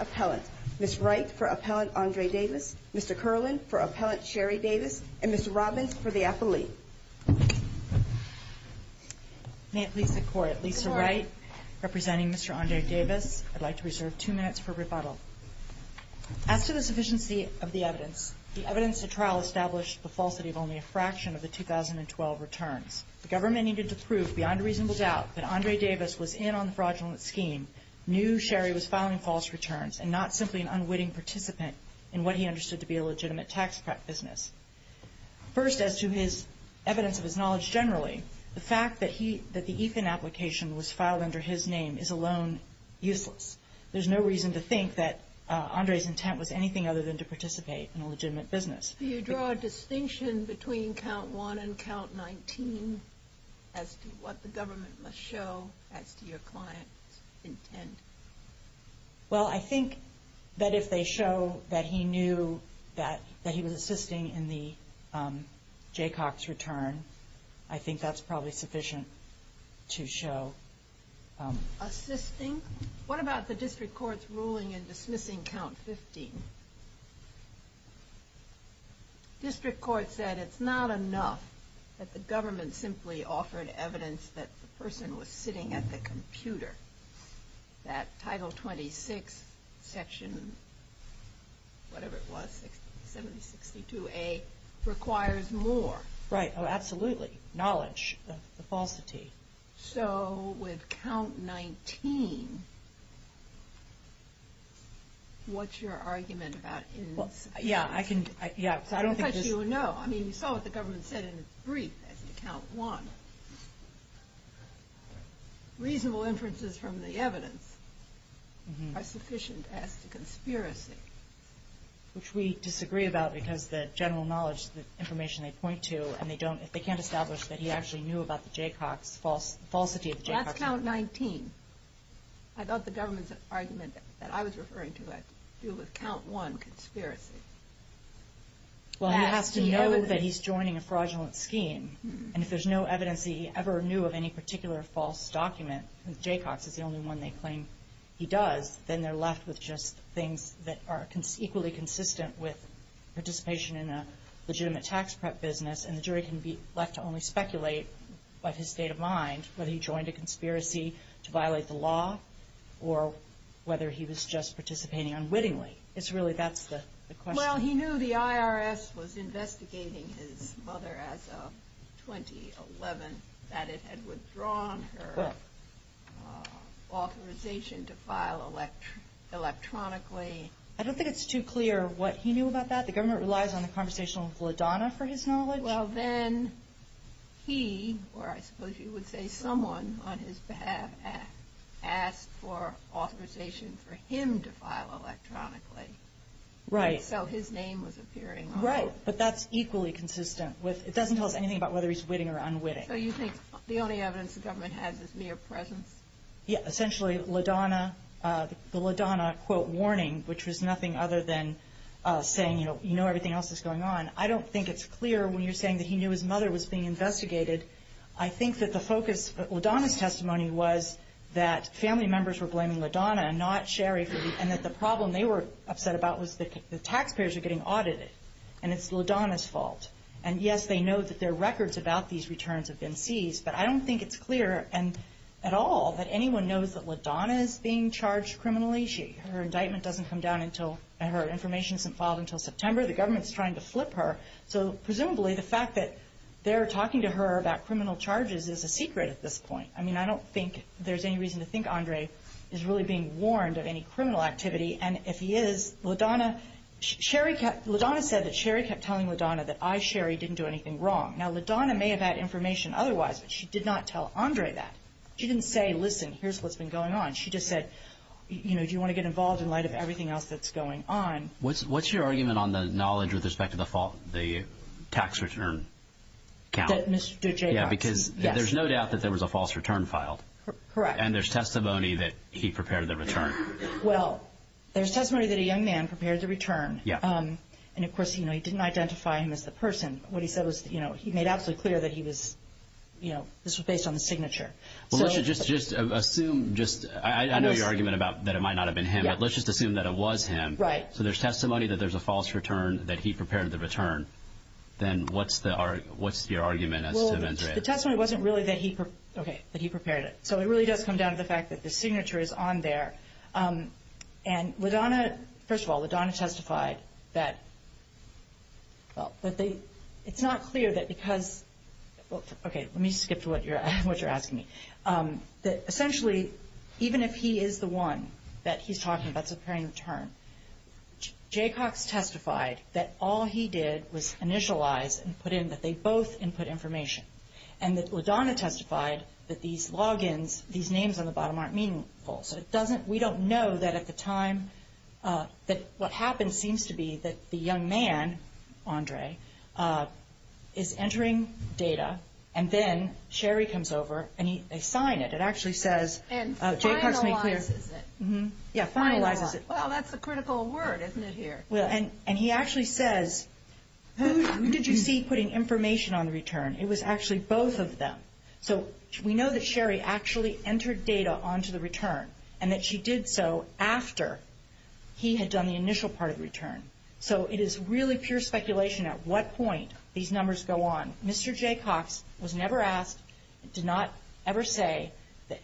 Appellant, Ms. Wright v. Appellant Andre Davis, Mr. Kerlin v. Appellant Sherri Davis, and Ms. Robbins v. the Athlete. May it please the Court, Lisa Wright representing Mr. Andre Davis. I'd like to reserve two minutes for rebuttal. As to the sufficiency of the evidence, the evidence to trial established the falsity of only a fraction of the 2012 return. The government needed to prove beyond a reasonable doubt that Andre Davis was in on the fraudulent scheme, knew Sherri was filing false returns and not simply an unwitting participant in what he understood to be a legitimate tax prep business. First, as to his evidence of his knowledge generally, the fact that the ETHAN application was filed under his name is alone useless. There's no reason to think that Andre's intent was anything other than to participate in a legitimate business. Do you draw a distinction between count 1 and count 19 as to what the government must show as to your client's intent? Well I think that if they show that he knew that he was assisting in the Jaycox return, I think that's probably sufficient to show. Assisting? What about the district court's ruling in dismissing count 15? The district court said it's not enough that the government simply offered evidence that the person was sitting at the computer. That title 26 section, whatever it was, 762A requires more. Right, absolutely. Knowledge. That's the falsity. So with count 19, what's your argument about... Yeah, I don't think... I don't think you would know. I mean, you saw what the government said in its brief as to count 1. Reasonable inferences from the evidence are sufficient as to conspiracy. Which we disagree about because the general knowledge, the information they point to, if they can't establish that he actually knew about the Jaycox, the falsity of the Jaycox... That's count 19. I thought the government's argument that I was referring to had to do with count 1, conspiracy. Well he has to know that he's joining a fraudulent scheme, and if there's no evidence that he ever knew of any particular false document, since Jaycox is the only one they claim he equally consistent with participation in a legitimate tax prep business, and the jury can be left to only speculate by his state of mind whether he joined a conspiracy to violate the law, or whether he was just participating unwittingly. It's really that's the question. Well he knew the IRS was investigating his mother as of 2011, that it had withdrawn her authorization to file electronically. I don't think it's too clear what he knew about that. The government relies on the conversation with LaDonna for his knowledge. Well then he, or I suppose you would say someone on his behalf, asked for authorization for him to file electronically. Right. So his name was appearing on it. Right, but that's equally consistent. It doesn't tell us anything about whether he's witting or unwitting. So you think the only evidence the government has is mere presence? Yeah, essentially LaDonna, the LaDonna quote warning, which was nothing other than saying you know everything else that's going on. I don't think it's clear when you're saying that he knew his mother was being investigated. I think that the focus of LaDonna's testimony was that family members were blaming LaDonna, not Sherry, and that the problem they were upset about was that the taxpayers are getting audited, and it's LaDonna's fault. And yes, they know that their records about these returns have been seized, but I don't think it's clear at all that anyone knows that LaDonna is being charged criminally. Her indictment doesn't come down until, and her information isn't filed until September. The government is trying to flip her. So presumably the fact that they're talking to her about criminal charges is a secret at this point. I mean I don't think there's any reason to think Andre is really being warned of any criminal activity, and if he is, LaDonna, Sherry, LaDonna said that Sherry kept telling LaDonna that I, Sherry, didn't do anything wrong. Now LaDonna may have had information otherwise, but she did not tell Andre that. She didn't say, listen, here's what's been going on. She just said, you know, do you want to get involved in light of everything else that's going on? What's your argument on the knowledge with respect to the tax return count? Yeah, because there's no doubt that there was a false return filed. Correct. And there's testimony that he prepared the return. Well, there's testimony that a young man prepared the return, and of course, you know, he didn't identify him as the person. What he said was, you know, he made absolutely clear that he was, you know, this was based on the signature. Well, let's just assume, just, I know your argument about that it might not have been him, but let's just assume that it was him. Right. So there's testimony that there's a false return that he prepared the return. Then what's the, what's your argument as to Andre? Well, the testimony wasn't really that he, okay, that he prepared it. So it really does come down to the fact that the signature is on there, and LaDonna, first of all, LaDonna testified that, well, that they, it's not clear that because, okay, let me skip to what you're asking me. That essentially, even if he is the one that he's talking about preparing the return, Jaycox testified that all he did was initialize and put in that they both input information. And that LaDonna testified that these logins, these names on the return at the time, that what happened seems to be that the young man, Andre, is entering data, and then Sherry comes over and he, they sign it. It actually says, Jaycox made clear. And finalizes it. Yeah, finalizes it. Well, that's a critical word, isn't it here? And he actually says, who did you see putting information on the return? It was actually both of them. So we know that Sherry actually entered data onto the return, and that she did so after he had done the initial part of the return. So it is really pure speculation at what point these numbers go on. Mr. Jaycox was never asked, did not ever say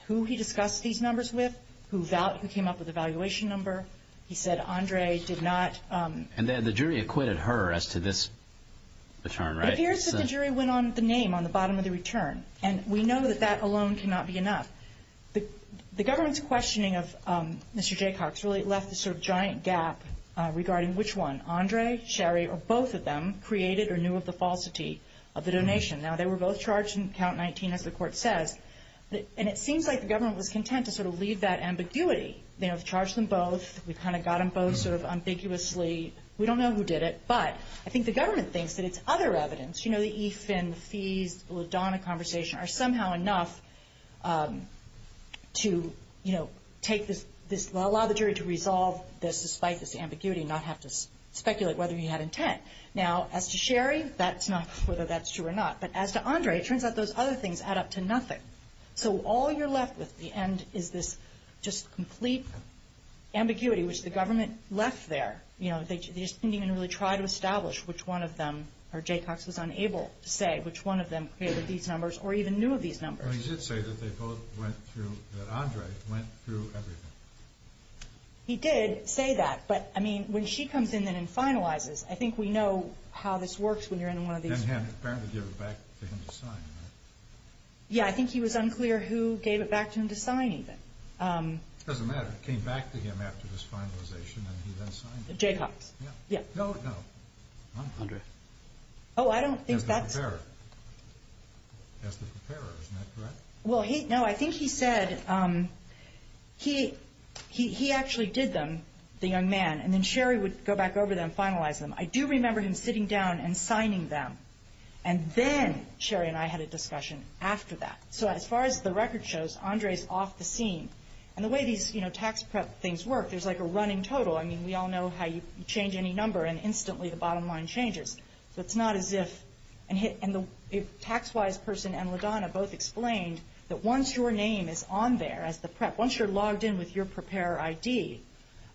who he discussed these numbers with, who came up with the valuation number. He said Andre did not. And then the jury acquitted her as to this return, right? It appears that the jury went on the name on the bottom of the return. And we know that that alone cannot be enough. The government's evidence, Mr. Jaycox, really left this sort of giant gap regarding which one, Andre, Sherry, or both of them, created or knew of the falsity of the donation. Now, they were both charged in count 19, as the court says. And it seems like the government was content to sort of leave that ambiguity. They have charged them both. We kind of got them both sort of ambiguously. We don't know who did it. But I think the government thinks that it's other evidence. You know, the E-Fin, the fees, the LaDonna conversation are somehow enough to, you know, take this, allow the jury to resolve this despite this ambiguity and not have to speculate whether you had intent. Now, as to Sherry, that's not whether that's true or not. But as to Andre, it turns out those other things add up to nothing. So all you're left with at the end is this just complete ambiguity, which the government left there. You know, they didn't even really try to establish which one of them, or Jay Cox was unable to say, which one of them created these numbers or even knew of these numbers. But he did say that they both went through, that Andre went through everything. He did say that. But, I mean, when she comes in and finalizes, I think we know how this works when you're in one of these... And he apparently gave it back to him to sign, right? Yeah, I think he was unclear who gave it back to him to sign even. It doesn't matter. It came back to him after this finalization and he then signed it. Jay Cox. Yeah. No, no. Andre. Oh, I don't think that's... Justice McCarran. Justice McCarran, is that correct? Well, no, I think he said he actually did them, the young man, and then Sherry would go back over there and finalize them. I do remember him sitting down and signing them. And then Sherry and I had a discussion after that. So as far as the record shows, Andre is off the scene. And the way these tax prep things work, there's like a running total. I mean, we all know how you change any number and instantly the bottom line changes. So it's not as if... And the tax-wise person and LaDonna both explained that once your name is on there as the prep, once you're logged in with your preparer ID,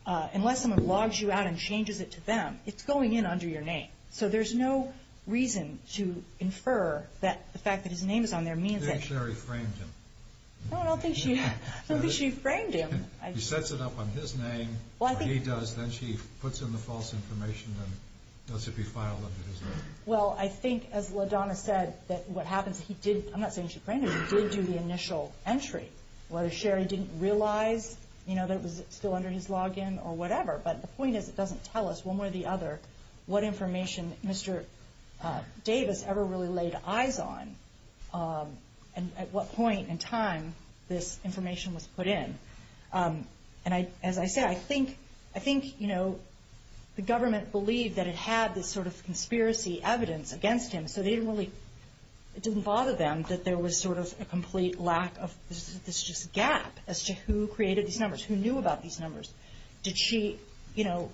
unless someone logs you out and changes it to them, it's going in under your name. So there's no reason to infer that the fact that his name is on there means that... I think Sherry framed him. Oh, I don't think she... I don't think she framed him. She sets it up on his name, he does, then she puts in the false information and knows if he filed under his name. Well, I think as LaDonna said, that what happens is he did... I'm not saying she framed him, but he did do the initial entry. Whether Sherry didn't realize, you know, that it was still under his login or whatever, but the point is it doesn't tell us one way or the other what information Mr. Davis ever really laid eyes on and at what point in time this information was put in. And as I said, I think, you know, the government believed that it had this sort of conspiracy evidence against him, so they didn't really... it didn't bother them that there was sort of a complete lack of... there's just a gap as to who created these numbers, who knew about these numbers. Did she, you know...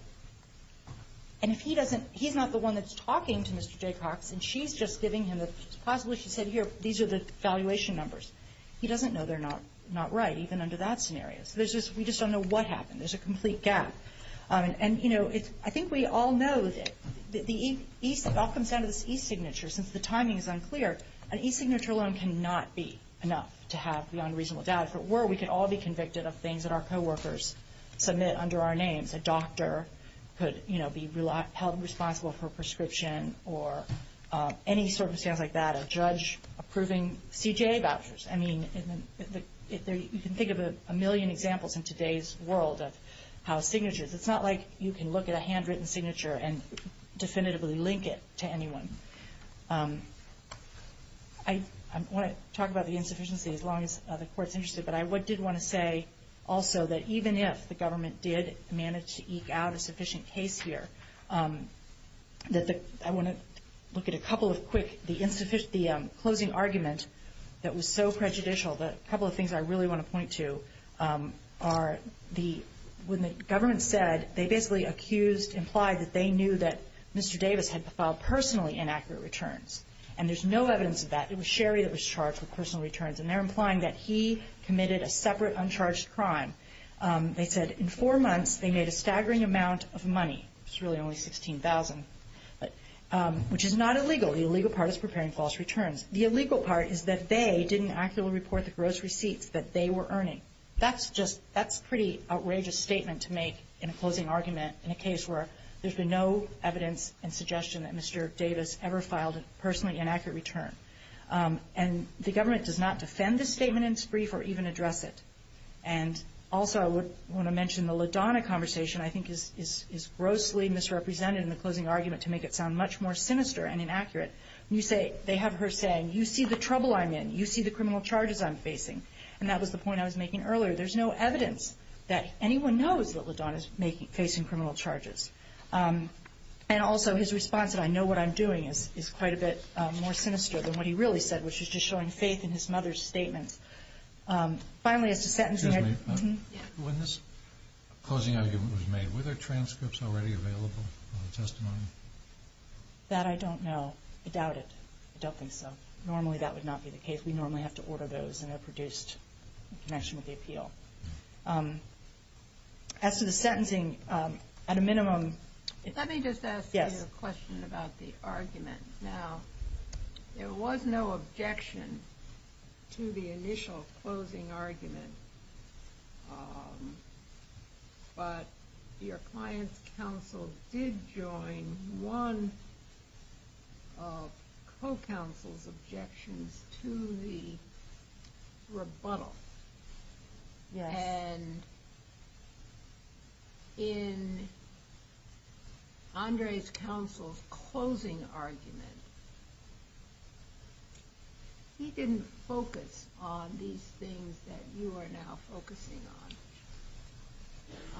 and if he doesn't... he's not the one that's talking to Mr. Jaycox and she's just giving him this... possibly she said, these are the valuation numbers. He doesn't know they're not right, even under that scenario. There's just... we just don't know what happened. There's a complete gap. And, you know, I think we all know that the e-signature, since the timing is unclear, an e-signature loan cannot be enough to have non-reasonable data. But where we could all be convicted of things that our co-workers submit under our name, a doctor could, you know, be held responsible for a prescription or any circumstance like that, a judge approving CJA vouchers. I mean, if there... you can think of a million examples in today's world of how signatures... it's not like you can look at a handwritten signature and definitively link it to anyone. I want to talk about the insufficiency as long as the Court's interested, but I did want to say also that even if the government did manage to eke out a sufficient case here, that the... I want to look at a couple of quick... the insufficient... the closing argument that was so prejudicial that a couple of things I really want to point to are the... when the government said... they basically accused... implied that they knew that Mr. Davis had to file personally inaccurate returns. And there's no evidence of that. It was Sherry that was charged with personal returns. And they're implying that he committed a separate uncharged crime. They said in four months they made a staggering amount of money. It's really only $16,000, but... which is not illegal. The illegal part is preparing false returns. The illegal part is that they didn't accurately report the gross receipts that they were earning. That's just... that's a pretty outrageous statement to make in a closing argument in a case where there's been no evidence and suggestion that Mr. Davis ever filed a personally inaccurate return. And the government does not defend this statement in its brief or even address it. And also I want to mention the LaDonna conversation I think is grossly misrepresented in the closing argument to make it sound much more sinister and inaccurate. You say... they have her saying, you see the trouble I'm in. You see the criminal charges I'm facing. And that was the point I was making earlier. There's no evidence that anyone knows that LaDonna's making... facing criminal charges. And also his response that I know what I'm doing is quite a bit more sinister than what he really said, which is just showing faith in his mother's statement. Finally, it's a sentencing... Excuse me. When this closing argument was made, were there transcripts already available in the testimony? That I don't know. I doubt it. I don't think so. Normally that would not be the case. We normally have to order those when they're produced in connection with the appeal. As to the sentencing, at a minimum... Let me just ask you a question about the argument. Now, there was no objection to the initial closing argument. But your client's counsel did join one of co-counsel's objections to the rebuttal. And in Andre's counsel's closing argument, he didn't focus on these things that you are now focusing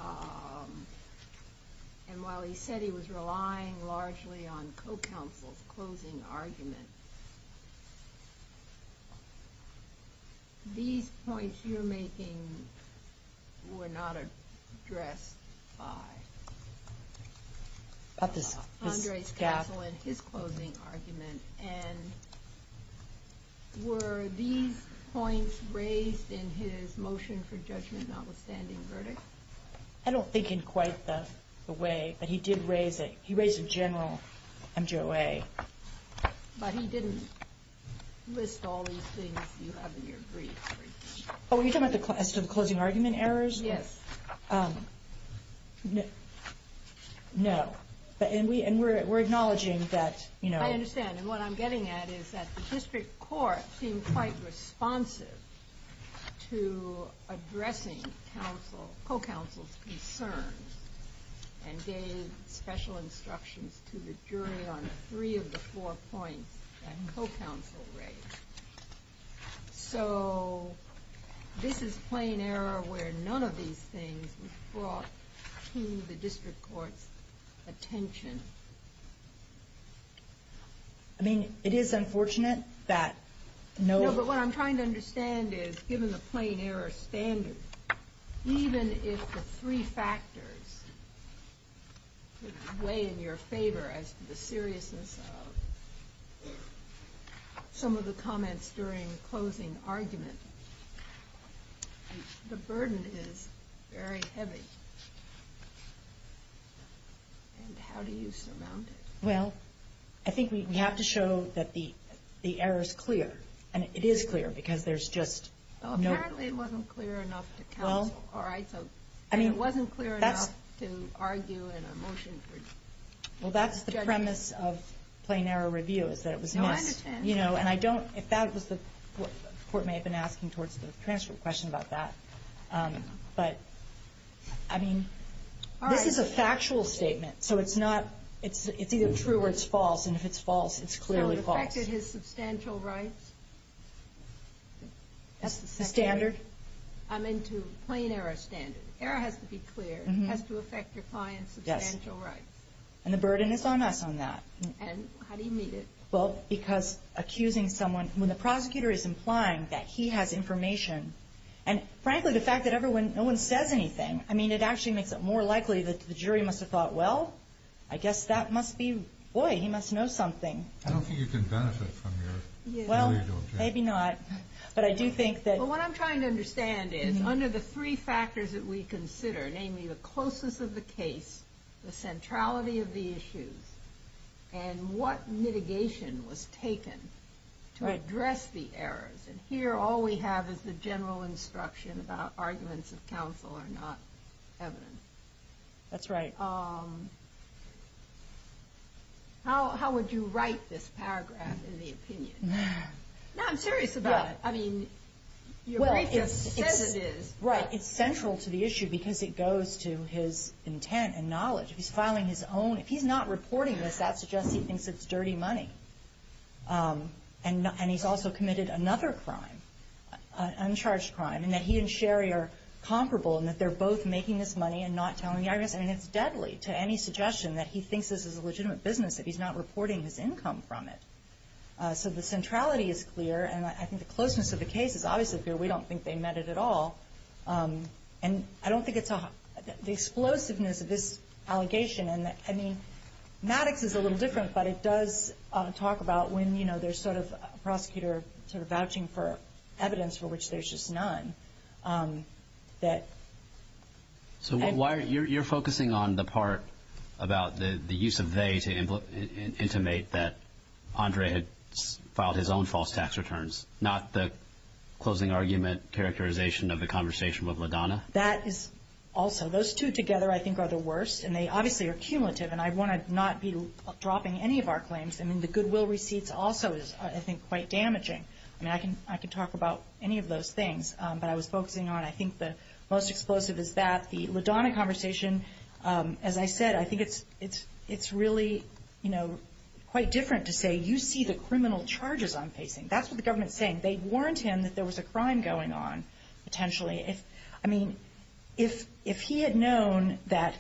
on. And while he said he was relying largely on co-counsel's objections, these points you're making were not addressed by Andre's counsel in his closing argument. And were these points raised in his motion for judgment notwithstanding verdict? I don't think in quite the way. But he did raise it. He raised a general MGA. But he didn't list all these things you have in your brief. Oh, you're talking about some closing argument errors? Yes. No. And we're acknowledging that... I understand. And what I'm getting at is that the district court seemed quite responsive to addressing co-counsel's concerns and gave special instructions to the jury on three of the four points that co-counsel raised. So, this is plain error where none of these things was brought to the district court's attention. I mean, it is unfortunate that no... No, but what I'm trying to understand is, given the plain error standard, even if the three factors weigh in your favor as to the seriousness of some of the comments during the closing argument, the burden is very heavy. And how do you surmount it? Well, I think we have to show that the error is clear. And it is clear because there's just no... Well, apparently it wasn't clear enough to counsel. Well... All right. So, it wasn't clear enough to argue in a motion for judgment. Well, that's the premise of plain error review. I understand. You know, and I don't... If that was what the court may have been asking towards the transfer question about that. But, I mean... All right. This is a factual statement. So, it's not... It's either true or it's false. And if it's false, it's clearly false. It affected his substantial rights. That's the standard. I meant to... Plain error standard. Error has to be clear. It has to affect your client's substantial rights. Yes. And the burden is on us on that. And how do you meet it? Well, because accusing someone... When the prosecutor is implying that he has information, and frankly, the fact that everyone... No one says anything. I mean, it actually makes it more likely that the jury must have thought, well, I guess that must be... Boy, he must know something. I don't think you can benefit from your... Well, maybe not. But I do think that... But what I'm trying to understand is, under the three factors that we consider, namely the closeness of the case, the centrality of the issue, and what mitigation was taken to address the errors. And here, all we have is the general instruction about arguments of counsel are not evidence. That's right. How would you write this paragraph in the opinion? Now, I'm curious about it. I mean, you're right there to say it is. Right. It's central to the issue because it goes to his intent and knowledge. If he's filing his own... If he's not reporting this, that suggests he thinks it's dirty money. And he's also committed another crime, an uncharged crime, and that he and Sherry are comparable, and that they're both making this money and not telling the arguments. I mean, it's deadly to any suggestion that he thinks this is a legitimate business if he's not reporting his income from it. So the centrality is clear, and I think the closeness of the case is obviously clear. We don't think they meant it at all. And I don't think it's a... The explosiveness of this allegation, and I mean, Maddox is a little different, but it does talk about when, you know, there's sort of a prosecutor sort of vouching for evidence for which there's just none, that... So why are... You're focusing on the part about the use of they to intimate that Andre had filed his own false tax returns, not the closing argument characterization of the conversation with Madonna? That is also... Those two together, I think, are the worst, and they obviously are cumulative, and I want to not be dropping any of our claims. I mean, the goodwill receipts also is, I think, quite damaging. I mean, I can talk about any of those things, but I was focusing on, I think, the most explosive is that the Madonna conversation, as I said, I think it's really, you know, quite different to say, you see the criminal charges I'm facing. That's what the government's saying. They warned him that there was a crime going on, potentially. I mean, if he had known that,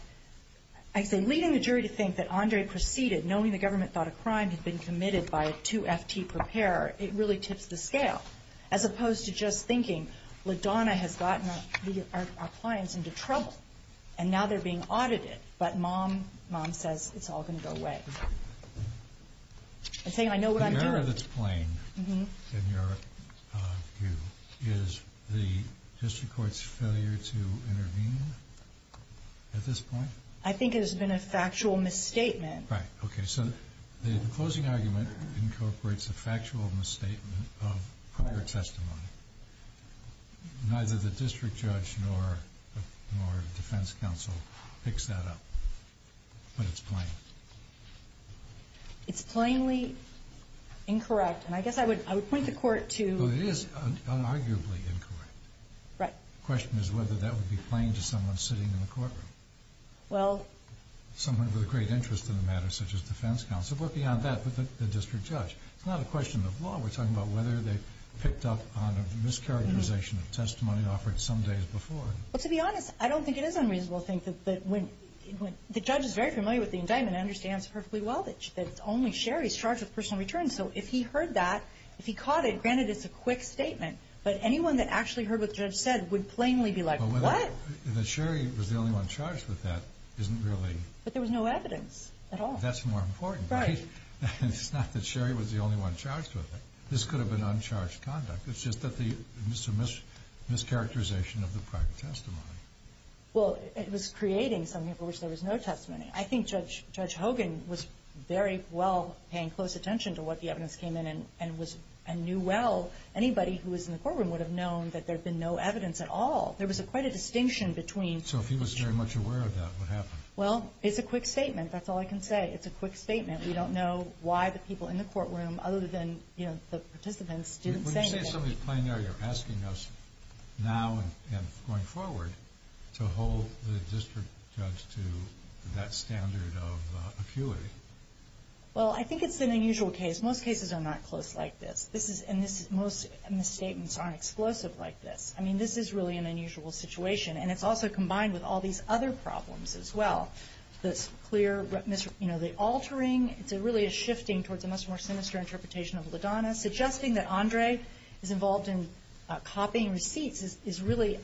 I think, leading the jury to think that Andre proceeded, knowing the government thought a crime had been committed by a 2FT preparer, it really tips the scale, as opposed to just thinking, Madonna has gotten our clients into trouble, and now they're being audited, but mom says it's all going to go away. I think I know what I'm doing. The error that's playing in your view is the district court's failure to intervene at this point? I think it has been a factual misstatement. Right. Okay, so the opposing argument incorporates a factual misstatement of proper testimony. Neither the district judge nor defense counsel picks that up, but it's plain. It's plainly incorrect, and I guess I would point the court to... Well, it is unarguably incorrect. Right. The question is whether that would be plain to someone sitting in the courtroom. Well... Someone with a great interest in the matter, such as defense counsel, but beyond that, it's not a question of law. We're talking about whether they picked up on a mischaracterization of testimony offered some days before. Well, to be honest, I don't think it is unreasonable to think that the judge is very familiar with the indictment and understands perfectly well that only Sherry is charged with personal return, so if he heard that, if he caught it, granted it's a quick statement, but anyone that actually heard what the judge said would plainly be like, what? Sherry was the only one charged with that. But there was no evidence at all. That's more important. Right. It's not that Sherry was the only one charged with it. This could have been uncharged conduct. It's just that there was a mischaracterization of the part of the testimony. Well, it was creating something for which there was no testimony. I think Judge Hogan was very well paying close attention to what the evidence came in and knew well anybody who was in the courtroom would have known that there had been no evidence at all. There was quite a distinction between... So if he was very much aware of that, what happened? Well, it's a quick statement. That's all I can say. It's a quick statement. We don't know why the people in the courtroom, other than the participants, didn't say anything. When you say somebody's playing out, you're asking us now and going forward to hold the district judge to that standard of acuity. Well, I think it's an unusual case. Most cases are not close like this. Most misstatements aren't explosive like this. I mean, this is really an unusual situation. And it's also combined with all these other problems as well. The clear... You know, the altering really is shifting towards a much more sinister interpretation of LaDonna. Suggesting that Andre is involved in copying receipts is really...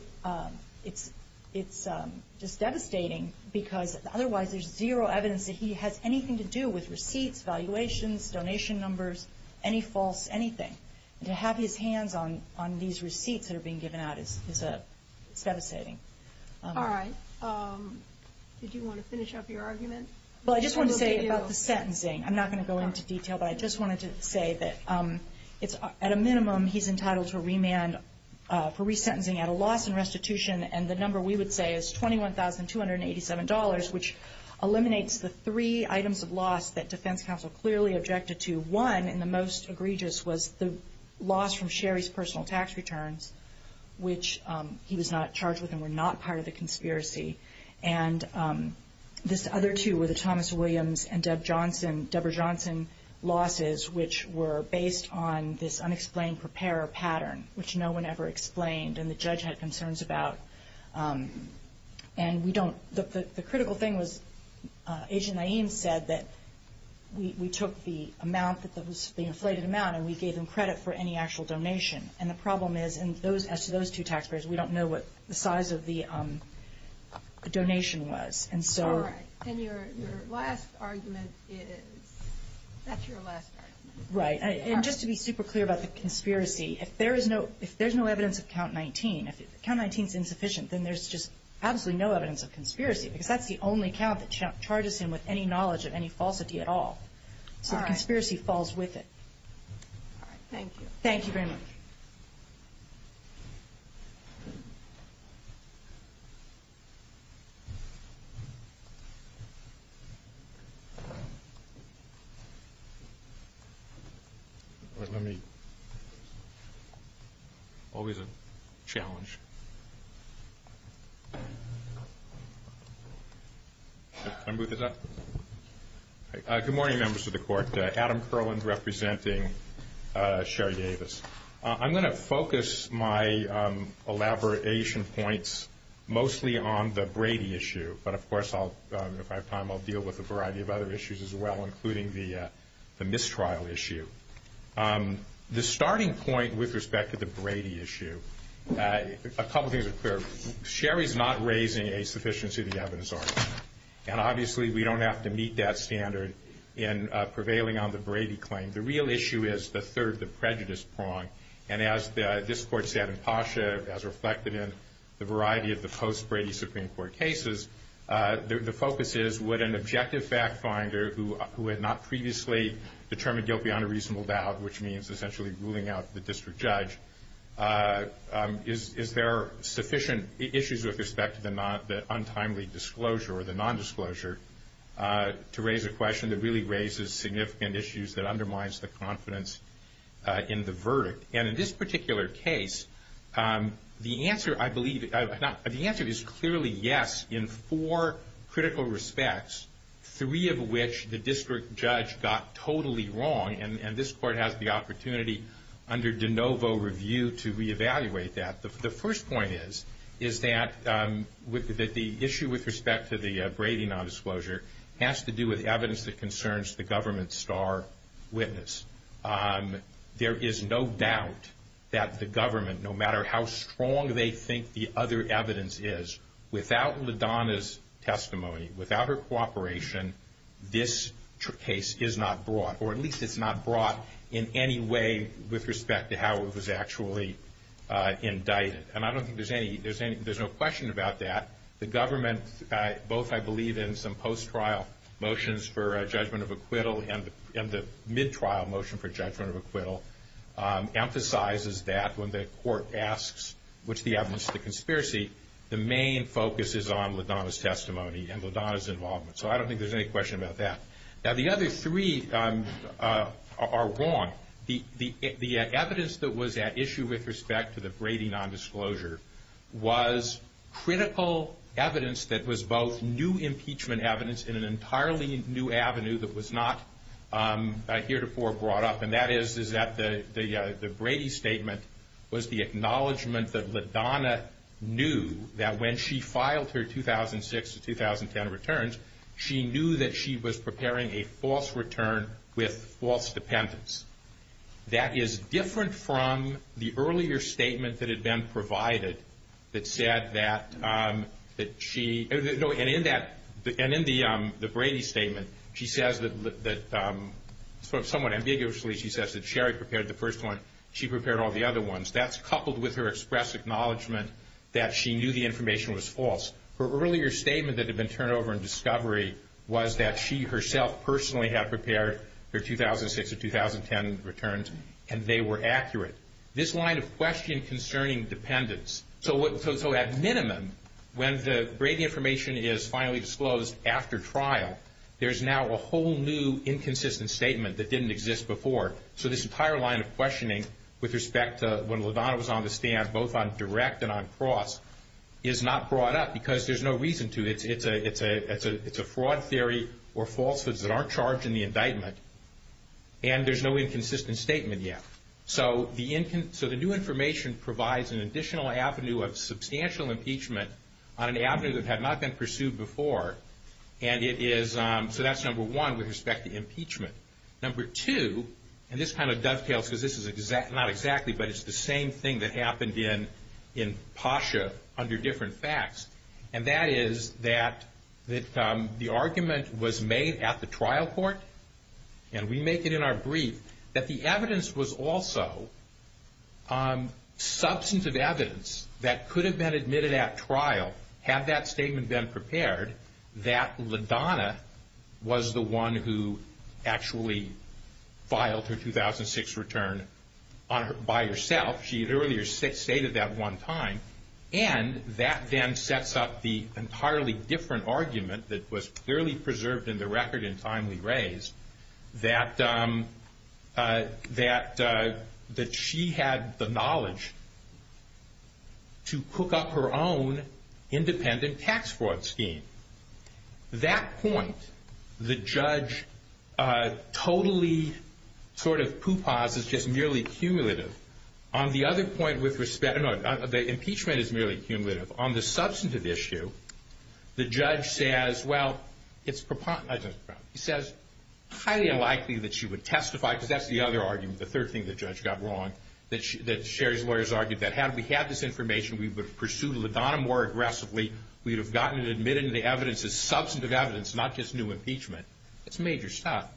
It's devastating because otherwise there's zero evidence that he has anything to do with receipts, valuations, donation numbers, any false anything. And to have his hands on these receipts that are being given out is devastating. All right. Did you want to finish up your argument? Well, I just wanted to say about the sentencing. I'm not going to go into detail, but I just wanted to say that at a minimum, he's entitled to remand for resentencing at a loss in restitution. And the number we would say is $21,287, which eliminates the three items of loss that defense counsel clearly objected to. One, and the most egregious, was the loss from Sherry's personal tax returns, which he was not charged with and were not part of the conspiracy. And these other two were the Thomas Williams and Debra Johnson losses, which were based on this unexplained preparer pattern, which no one ever explained and the judge had concerns about. And we don't – the critical thing was Agent Naeem said that we took the amount that was the inflated amount and we gave him credit for any actual donation. And the problem is, as to those two taxpayers, we don't know what the size of the donation was. And so – All right. And your last argument is – that's your last argument. Right. And just to be super clear about the conspiracy, if there is no – if there's no evidence of Count 19, if Count 19 is insufficient, then there's just absolutely no evidence of conspiracy. Because that's the only count that charges him with any knowledge of any falsity at all. All right. So the conspiracy falls with it. All right. Thank you. Thank you very much. Good morning, members of the court. I'm going to focus my elaboration points mostly on the Brady issue, but of course if I have time I'll deal with a variety of other issues as well, including the mistrial issue. The starting point with respect to the Brady issue, a couple things are clear. Sherry is not raising a sufficiency of the evidence argument. And obviously we don't have to meet that standard in prevailing on the Brady claim. The real issue is the third, the prejudice prong. And as this court said in Pasha, as reflected in the variety of the post-Brady Supreme Court cases, the focus is would an objective fact finder who had not previously determined guilty on a reasonable doubt, which means essentially ruling out the district judge, is there sufficient issues with respect to the untimely disclosure or the nondisclosure to raise a question that really raises significant issues that undermines the confidence in the verdict. And in this particular case, the answer, I believe, the answer is clearly yes in four critical respects, three of which the district judge got totally wrong, and this court has the opportunity under de novo review to reevaluate that. The first point is that the issue with respect to the Brady nondisclosure has to do with evidence that concerns the government's star witness. There is no doubt that the government, no matter how strong they think the other evidence is, without LaDonna's testimony, without her cooperation, this case is not brought, or at least it's not brought in any way with respect to how it was actually indicted. And I don't think there's any, there's no question about that. The government, both I believe in some post-trial motions for judgment of acquittal and the mid-trial motion for judgment of acquittal, emphasizes that when the court asks, what's the evidence of the conspiracy, the main focus is on LaDonna's testimony and LaDonna's involvement. So I don't think there's any question about that. Now the other three are wrong. The evidence that was at issue with respect to the Brady nondisclosure was critical evidence that was both new impeachment evidence and an entirely new avenue that was not heretofore brought up, and that is that the Brady statement was the acknowledgment that LaDonna knew that when she filed her 2006-2010 returns, she knew that she was preparing a false return with false defendants. That is different from the earlier statement that had been provided that said that she, and in that, and in the Brady statement, she says that, somewhat ambiguously, she says that Sherry prepared the first one, she prepared all the other ones. That's coupled with her express acknowledgment that she knew the information was false. Her earlier statement that had been turned over in discovery was that she herself personally had prepared her 2006-2010 returns, and they were accurate. This line of question concerning dependents. So at minimum, when the Brady information is finally disclosed after trial, there's now a whole new inconsistent statement that didn't exist before. So this entire line of questioning with respect to when LaDonna was on the stand, both on direct and on cross, is not brought up because there's no reason to. It's a fraud theory or falsehoods that aren't charged in the indictment, and there's no inconsistent statement yet. So the new information provides an additional avenue of substantial impeachment on an avenue that had not been pursued before, and it is, so that's number one with respect to impeachment. Number two, and this kind of dovetails because this is not exactly, but it's the same thing that happened in PASHA under different facts, and that is that the argument was made at the trial court, and we make it in our brief, that the evidence was also substantive evidence that could have been admitted at trial, had that statement been prepared, that LaDonna was the one who actually filed her 2006 return by herself. She had earlier stated that one time, and that then sets up the entirely different argument that was clearly preserved in the record and finally raised, that she had the knowledge to cook up her own independent tax fraud scheme. At that point, the judge totally sort of pooh-pahs, it's just merely cumulative. On the other point with respect, no, the impeachment is merely cumulative. On the substantive issue, the judge says, well, it's highly unlikely that she would testify, because that's the other argument, the third thing the judge got wrong, that Sherry's lawyers argued, that had we had this information, we would have pursued LaDonna more aggressively, we would have gotten it admitted into the evidence as substantive evidence, not just new impeachment. That's major stuff,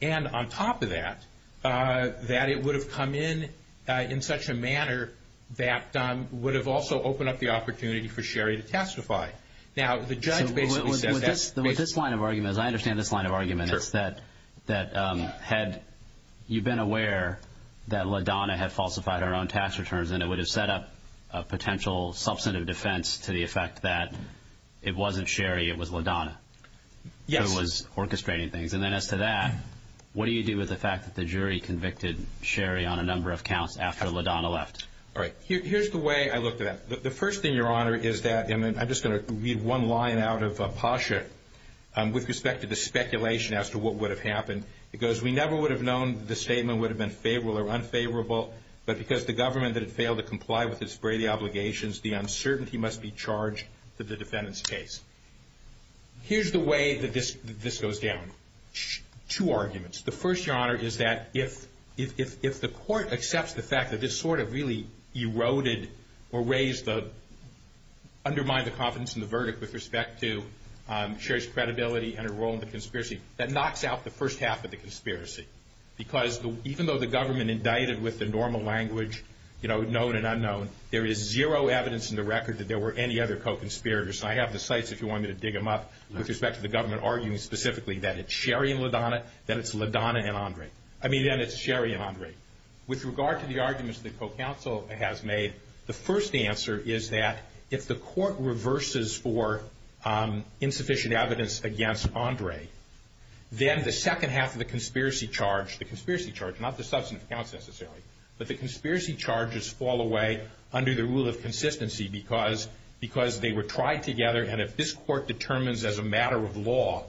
and on top of that, that it would have come in in such a manner that would have also opened up the opportunity for Sherry to testify. Now, the judge basically said that. With this line of argument, as I understand this line of argument, is that you've been aware that LaDonna had falsified her own tax returns, and it would have set up a potential substantive defense to the effect that it wasn't Sherry, it was LaDonna. Yes. Who was orchestrating things, and then as to that, what do you do with the fact that the jury convicted Sherry on a number of counts after LaDonna left? All right. Here's the way I look at it. The first thing, Your Honor, is that, and I'm just going to read one line out of Hasha, with respect to the speculation as to what would have happened. It goes, we never would have known that the statement would have been favorable or unfavorable, but because the government had failed to comply with its Brady obligations, the uncertainty must be charged with the defendant's case. Here's the way that this goes down. Two arguments. The first, Your Honor, is that if the court accepts the fact that this sort of really eroded or undermined the confidence in the verdict with respect to Sherry's credibility and her role in the conspiracy, that knocks out the first half of the conspiracy. Because even though the government indicted with the normal language, you know, known and unknown, there is zero evidence in the record that there were any other co-conspirators. I have the sites if you wanted to dig them up with respect to the government arguing specifically that it's Sherry and LaDonna, that it's LaDonna and Andre. I mean, again, it's Sherry and Andre. With regard to the arguments the co-counsel has made, the first answer is that if the court reverses for insufficient evidence against Andre, then the second half of the conspiracy charge, the conspiracy charge, not the substantive counts necessarily, but the conspiracy charges fall away under the rule of consistency because they were tried together and if this court determines as a matter of law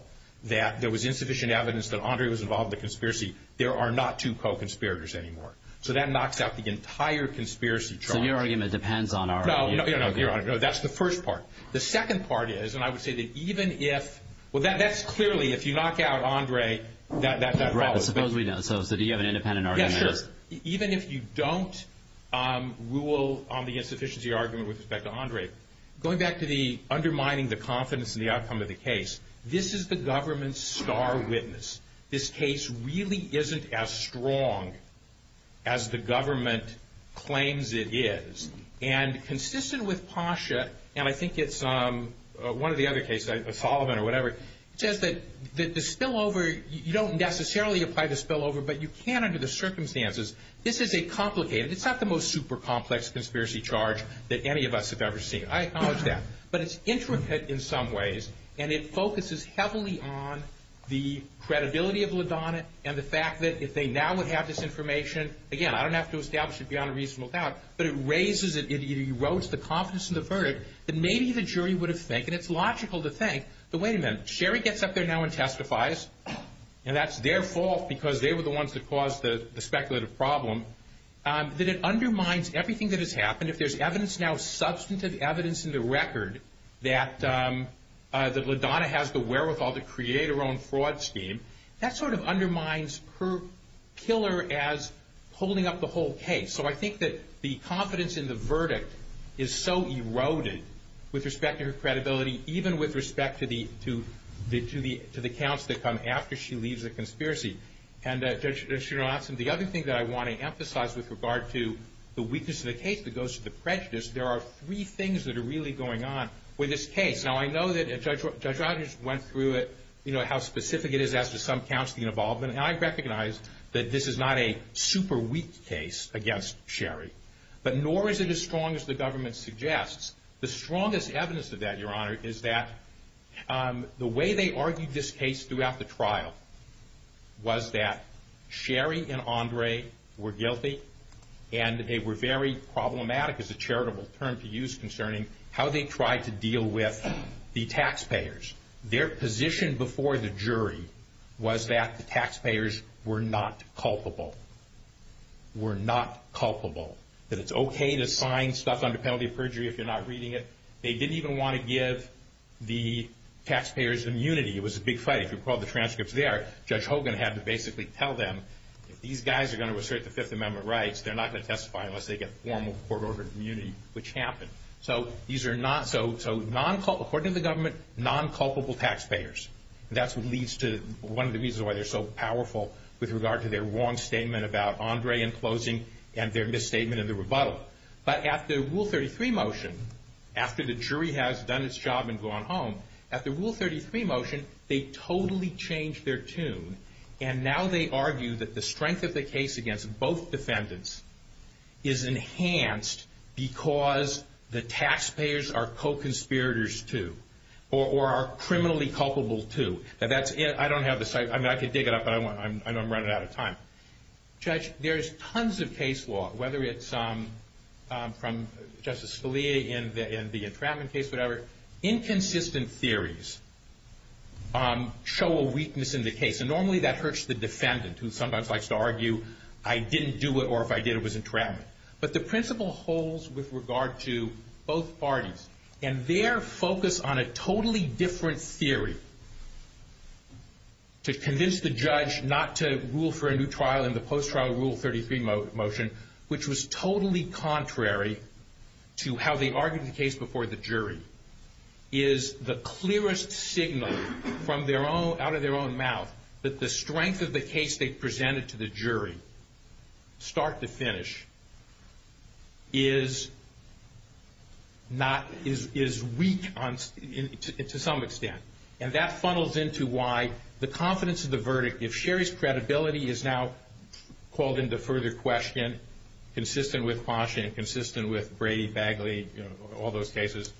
that there was insufficient evidence that Andre was involved in the conspiracy, there are not two co-conspirators anymore. So that knocks out the entire conspiracy charge. So your argument depends on our argument. No, no, no. That's the first part. The second part is, and I would say that even if, well, that's clearly, if you knock out Andre, that's a problem. So do you have an independent argument? Sure. Even if you don't rule on the insufficiency argument with respect to Andre, going back to the undermining the confidence in the outcome of the case, this is the government's star witness. This case really isn't as strong as the government claims it is. And consistent with PASHA, and I think it's one of the other cases, Holloman or whatever, it says that the spillover, you don't necessarily apply the spillover, but you can under the circumstances. This is a complicated, it's not the most super complex conspiracy charge that any of us have ever seen. I acknowledge that. But it's intricate in some ways and it focuses heavily on the credibility of LaDonna and the fact that if they now would have this information, again, I don't have to establish it beyond a reasonable doubt, but it raises, it erodes the confidence in the verdict, that maybe the jury would have think, and it's logical to think, that wait a minute, Sherry gets up there now and testifies, and that's their fault because they were the ones that caused the speculative problem, that it undermines everything that has happened. If there's evidence now, substantive evidence in the record, that LaDonna has the wherewithal to create her own fraud scheme, that sort of undermines her pillar as holding up the whole case. So I think that the confidence in the verdict is so eroded with respect to her credibility, even with respect to the counts that come after she leaves the conspiracy. And Judge Johnson, the other thing that I want to emphasize with regard to the weakness of the case that goes to the prejudice, there are three things that are really going on with this case. Now, I know that Judge Rogers went through it, you know, how specific it is as to some counts being involved, and I recognize that this is not a super weak case against Sherry, but nor is it as strong as the government suggests. The strongest evidence of that, Your Honor, is that the way they argued this case throughout the trial was that Sherry and Andre were guilty, and they were very problematic as a charitable term to use concerning how they tried to deal with the taxpayers. Their position before the jury was that the taxpayers were not culpable. Were not culpable. That it's okay to sign stuff under penalty of perjury if you're not reading it. They didn't even want to give the taxpayers immunity. It was a big fight. If you recall the transcripts there, Judge Hogan had to basically tell them, if these guys are going to assert the Fifth Amendment rights, they're not going to testify unless they get formal court-ordered immunity, which happened. So according to the government, non-culpable taxpayers. That's one of the reasons why they're so powerful with regard to their wrong statement about Andre in closing and their misstatement of the rebuttal. But after Rule 33 motion, after the jury has done its job and gone home, after Rule 33 motion, they totally changed their tune, and now they argue that the strength of the case against both defendants is enhanced because the taxpayers are co-conspirators, too, or are criminally culpable, too. I don't have the site. I could dig it up, but I'm running out of time. Judge, there's tons of case law, whether it's from Justice Scalia in the entrapment case, whatever. Inconsistent theories show a weakness in the case, and normally that hurts the defendant who sometimes likes to argue, I didn't do it or if I did it was entrapment. But the principle holds with regard to both parties, and their focus on a totally different theory to convince the judge not to rule for a new trial in the post-trial Rule 33 motion, which was totally contrary to how they argued the case before the jury, is the clearest signal from their own, out of their own mouth, that the strength of the case they presented to the jury, start to finish, is weak to some extent. And that funnels into why the confidence of the verdict, if Sherry's credibility is now called into further question, consistent with Washington, consistent with Brady, Bagley, all those cases.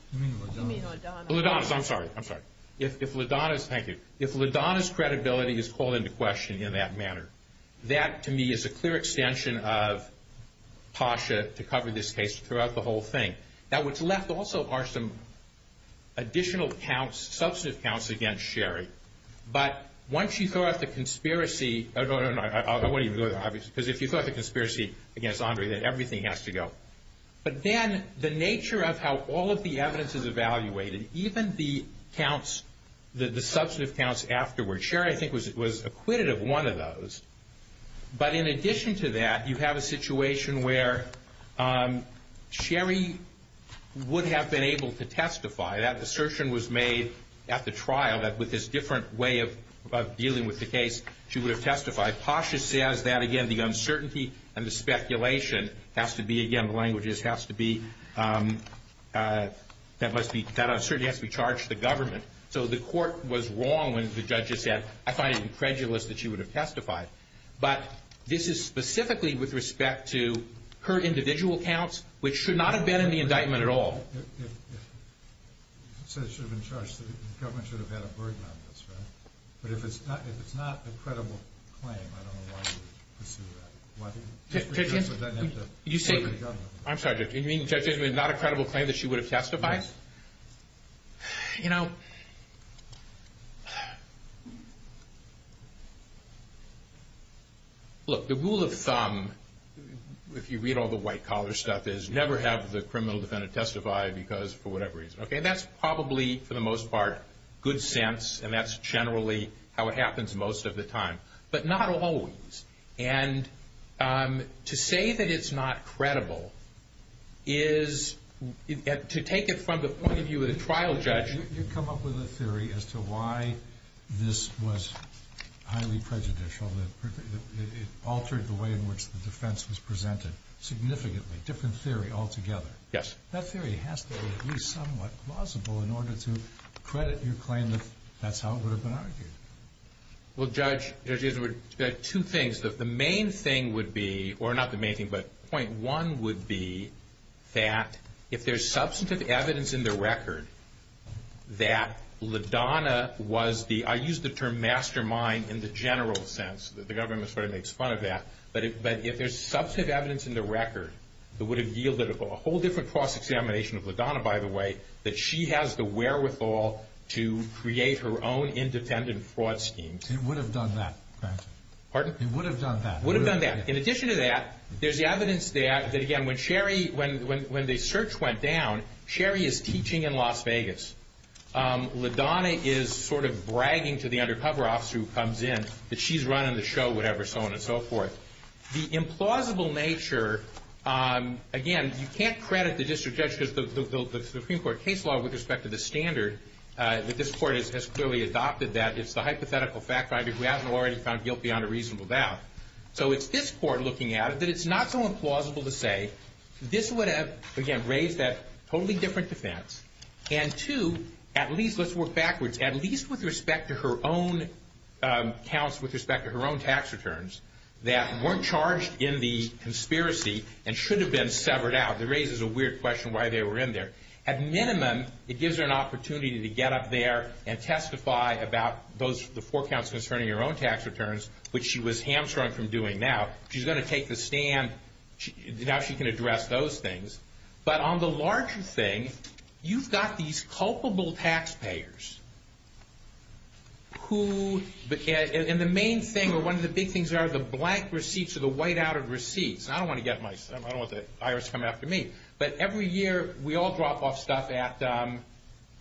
Ladonna's, I'm sorry, I'm sorry. If Ladonna's, thank you, if Ladonna's credibility is called into question in that manner, that to me is a clear extension of Tasha to cover this case throughout the whole thing. Now what's left also are some additional counts, substantive counts against Sherry. But once you throw out the conspiracy, no, no, no, no, because if you throw out the conspiracy against Andre, then everything has to go. But then the nature of how all of the evidence is evaluated, even the counts, the substantive counts afterwards, Sherry I think was acquitted of one of those. But in addition to that, you have a situation where Sherry would have been able to testify. That assertion was made at the trial, that with this different way of dealing with the case, she would have testified. Tasha says that, again, the uncertainty and the speculation has to be, again, the language is has to be, that uncertainty has to be charged to the government. So the court was wrong when the judge said, I find it incredulous that she would have testified. But this is specifically with respect to her individual counts, which should not have been in the indictment at all. It says should have been charged. The government should have had a word on this, right? But if it's not a credible claim, I don't know why you would pursue that. I'm sorry, did you mean that it's not a credible claim that she would have testified? You know, look, the rule of thumb, if you read all the white-collar stuff, is never have the criminal defendant testify because for whatever reason. Okay, that's probably, for the most part, good sense, and that's generally how it happens most of the time. But not always. And to say that it's not credible is to take it from the point of view of the trial judge. You come up with a theory as to why this was highly prejudicial. It altered the way in which the defense was presented significantly. A different theory altogether. Yes. That theory has to be at least somewhat plausible in order to credit your claim that that's how it would have been argued. Well, Judge, there are two things. The main thing would be, or not the main thing, but point one would be that if there's substantive evidence in the record that LaDonna was the, I use the term mastermind in the general sense. The government sort of makes fun of that. But if there's substantive evidence in the record that would have yielded, a whole different cross-examination of LaDonna, by the way, that she has the wherewithal to create her own independent fraud scheme. She would have done that. Pardon? She would have done that. Would have done that. In addition to that, there's the evidence that, again, when Sherry, when the search went down, Sherry is teaching in Las Vegas. LaDonna is sort of bragging to the undercover officer who comes in that she's running the show, whatever, so on and so forth. The implausible nature, again, you can't credit the district judges of the Supreme Court case law with respect to the standard. But this court has clearly adopted that. It's the hypothetical fact finder who hasn't already found guilt beyond a reasonable doubt. So it's this court looking at it that it's not so implausible to say this would have, again, raised that totally different defense. And two, at least let's work backwards. At least with respect to her own counts, with respect to her own tax returns, that weren't charged in the conspiracy and should have been severed out. It raises a weird question why they were in there. At minimum, it gives her an opportunity to get up there and testify about the four counts concerning her own tax returns, which she was hamstrung from doing now. She's going to take the stand. Now she can address those things. But on the larger thing, you've got these culpable taxpayers who, and the main thing or one of the big things are the blank receipts or the whiteout of receipts. I don't want to get my, I don't want the IRS coming after me. But every year we all drop off stuff at,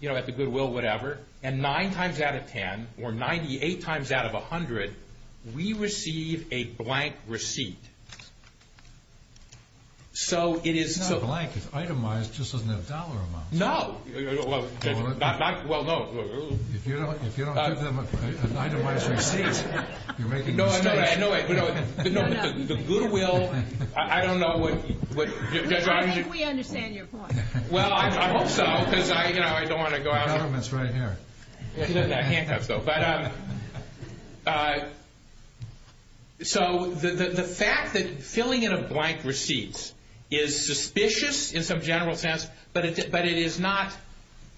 you know, at the Goodwill or whatever, and nine times out of ten or 98 times out of 100, we receive a blank receipt. So it is. It's not a blank. It's itemized just as a dollar amount. No. Well, no. If you don't give them an itemized receipt, you're making money. No, no, no. The Goodwill, I don't know what. We understand your point. Well, I hope so, because I don't want to go out. The item is right there. I can't have those. But so the fact that filling in a blank receipt is suspicious in some general sense, but it is not,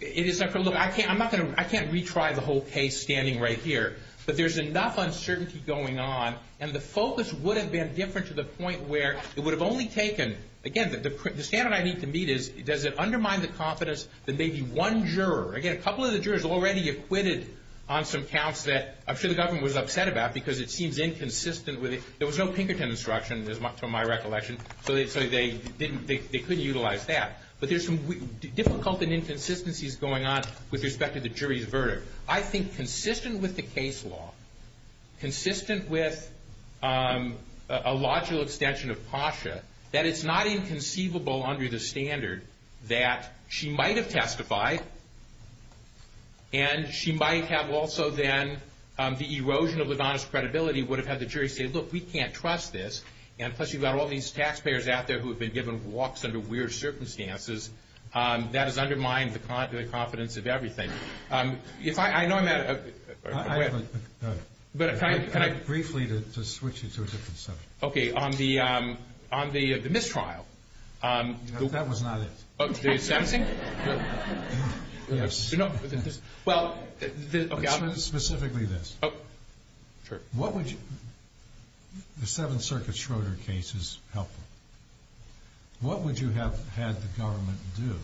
I can't retry the whole case standing right here. But there's enough uncertainty going on, and the focus would have been different to the point where it would have only taken, again, the standard I need to meet is, does it undermine the confidence that maybe one juror, again, a couple of the jurors already acquitted on some counts that I'm sure the government was upset about because it seems inconsistent with it. There was no Pinkerton instruction, to my recollection, so they couldn't utilize that. But there's some difficulty and inconsistencies going on with respect to the jury's verdict. I think consistent with the case law, consistent with a logical extension of PASHA, that it's not inconceivable under the standard that she might have testified and she might have also then the erosion of LaVonna's credibility would have had the jury say, look, we can't trust this. And plus you've got all these taxpayers out there who have been given walks under weird circumstances. That has undermined the confidence of everything. I know I'm at a... Briefly to switch it to a different subject. Okay, on the mistrial. That was not it. The 17th? Yes. Well, okay. Specifically this. Sure. What would you... The Seventh Circuit Schroder case is helpful. What would you have had the government do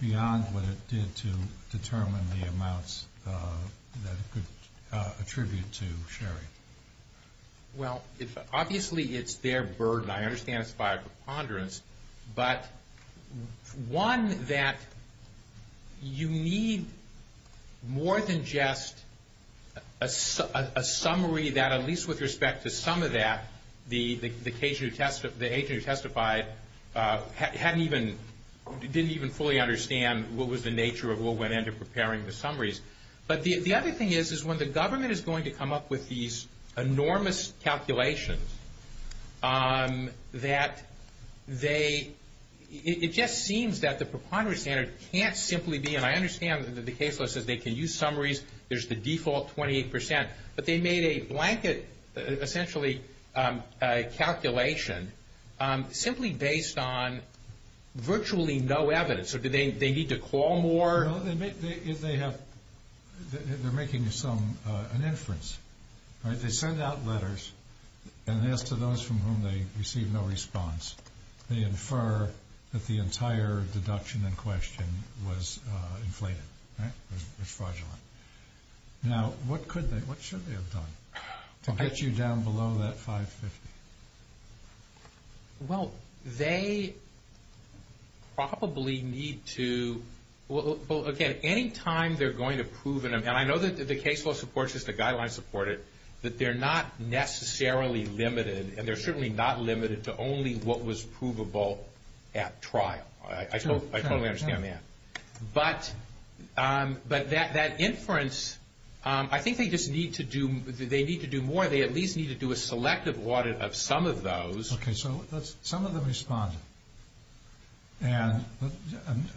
beyond what it did to determine the amounts that it could attribute to Sherry? Well, obviously it's their burden. I understand it's by a preponderance. But one that you need more than just a summary that at least with respect to some of that, the agent who testified didn't even fully understand what was the nature of what went into preparing the summaries. But the other thing is when the government is going to come up with these enormous calculations that they... It just seems that the preponderance standard can't simply be... And I understand in the case list that they can use summaries. There's the default 28%. But they made a blanket, essentially, calculation simply based on virtually no evidence. Do they need to call more? They're making an inference. They send out letters and they ask those from whom they receive no response. They infer that the entire deduction in question was inflated. It's fraudulent. Now, what should they have done to get you down below that 550? Well, they probably need to... Well, again, any time they're going to prove... And I know that the case law supports this, the guidelines support it, that they're not necessarily limited and they're certainly not limited to only what was provable at trial. I totally understand that. But that inference, I think they just need to do more. They at least need to do a selective audit of some of those. Okay, so some of them responded. And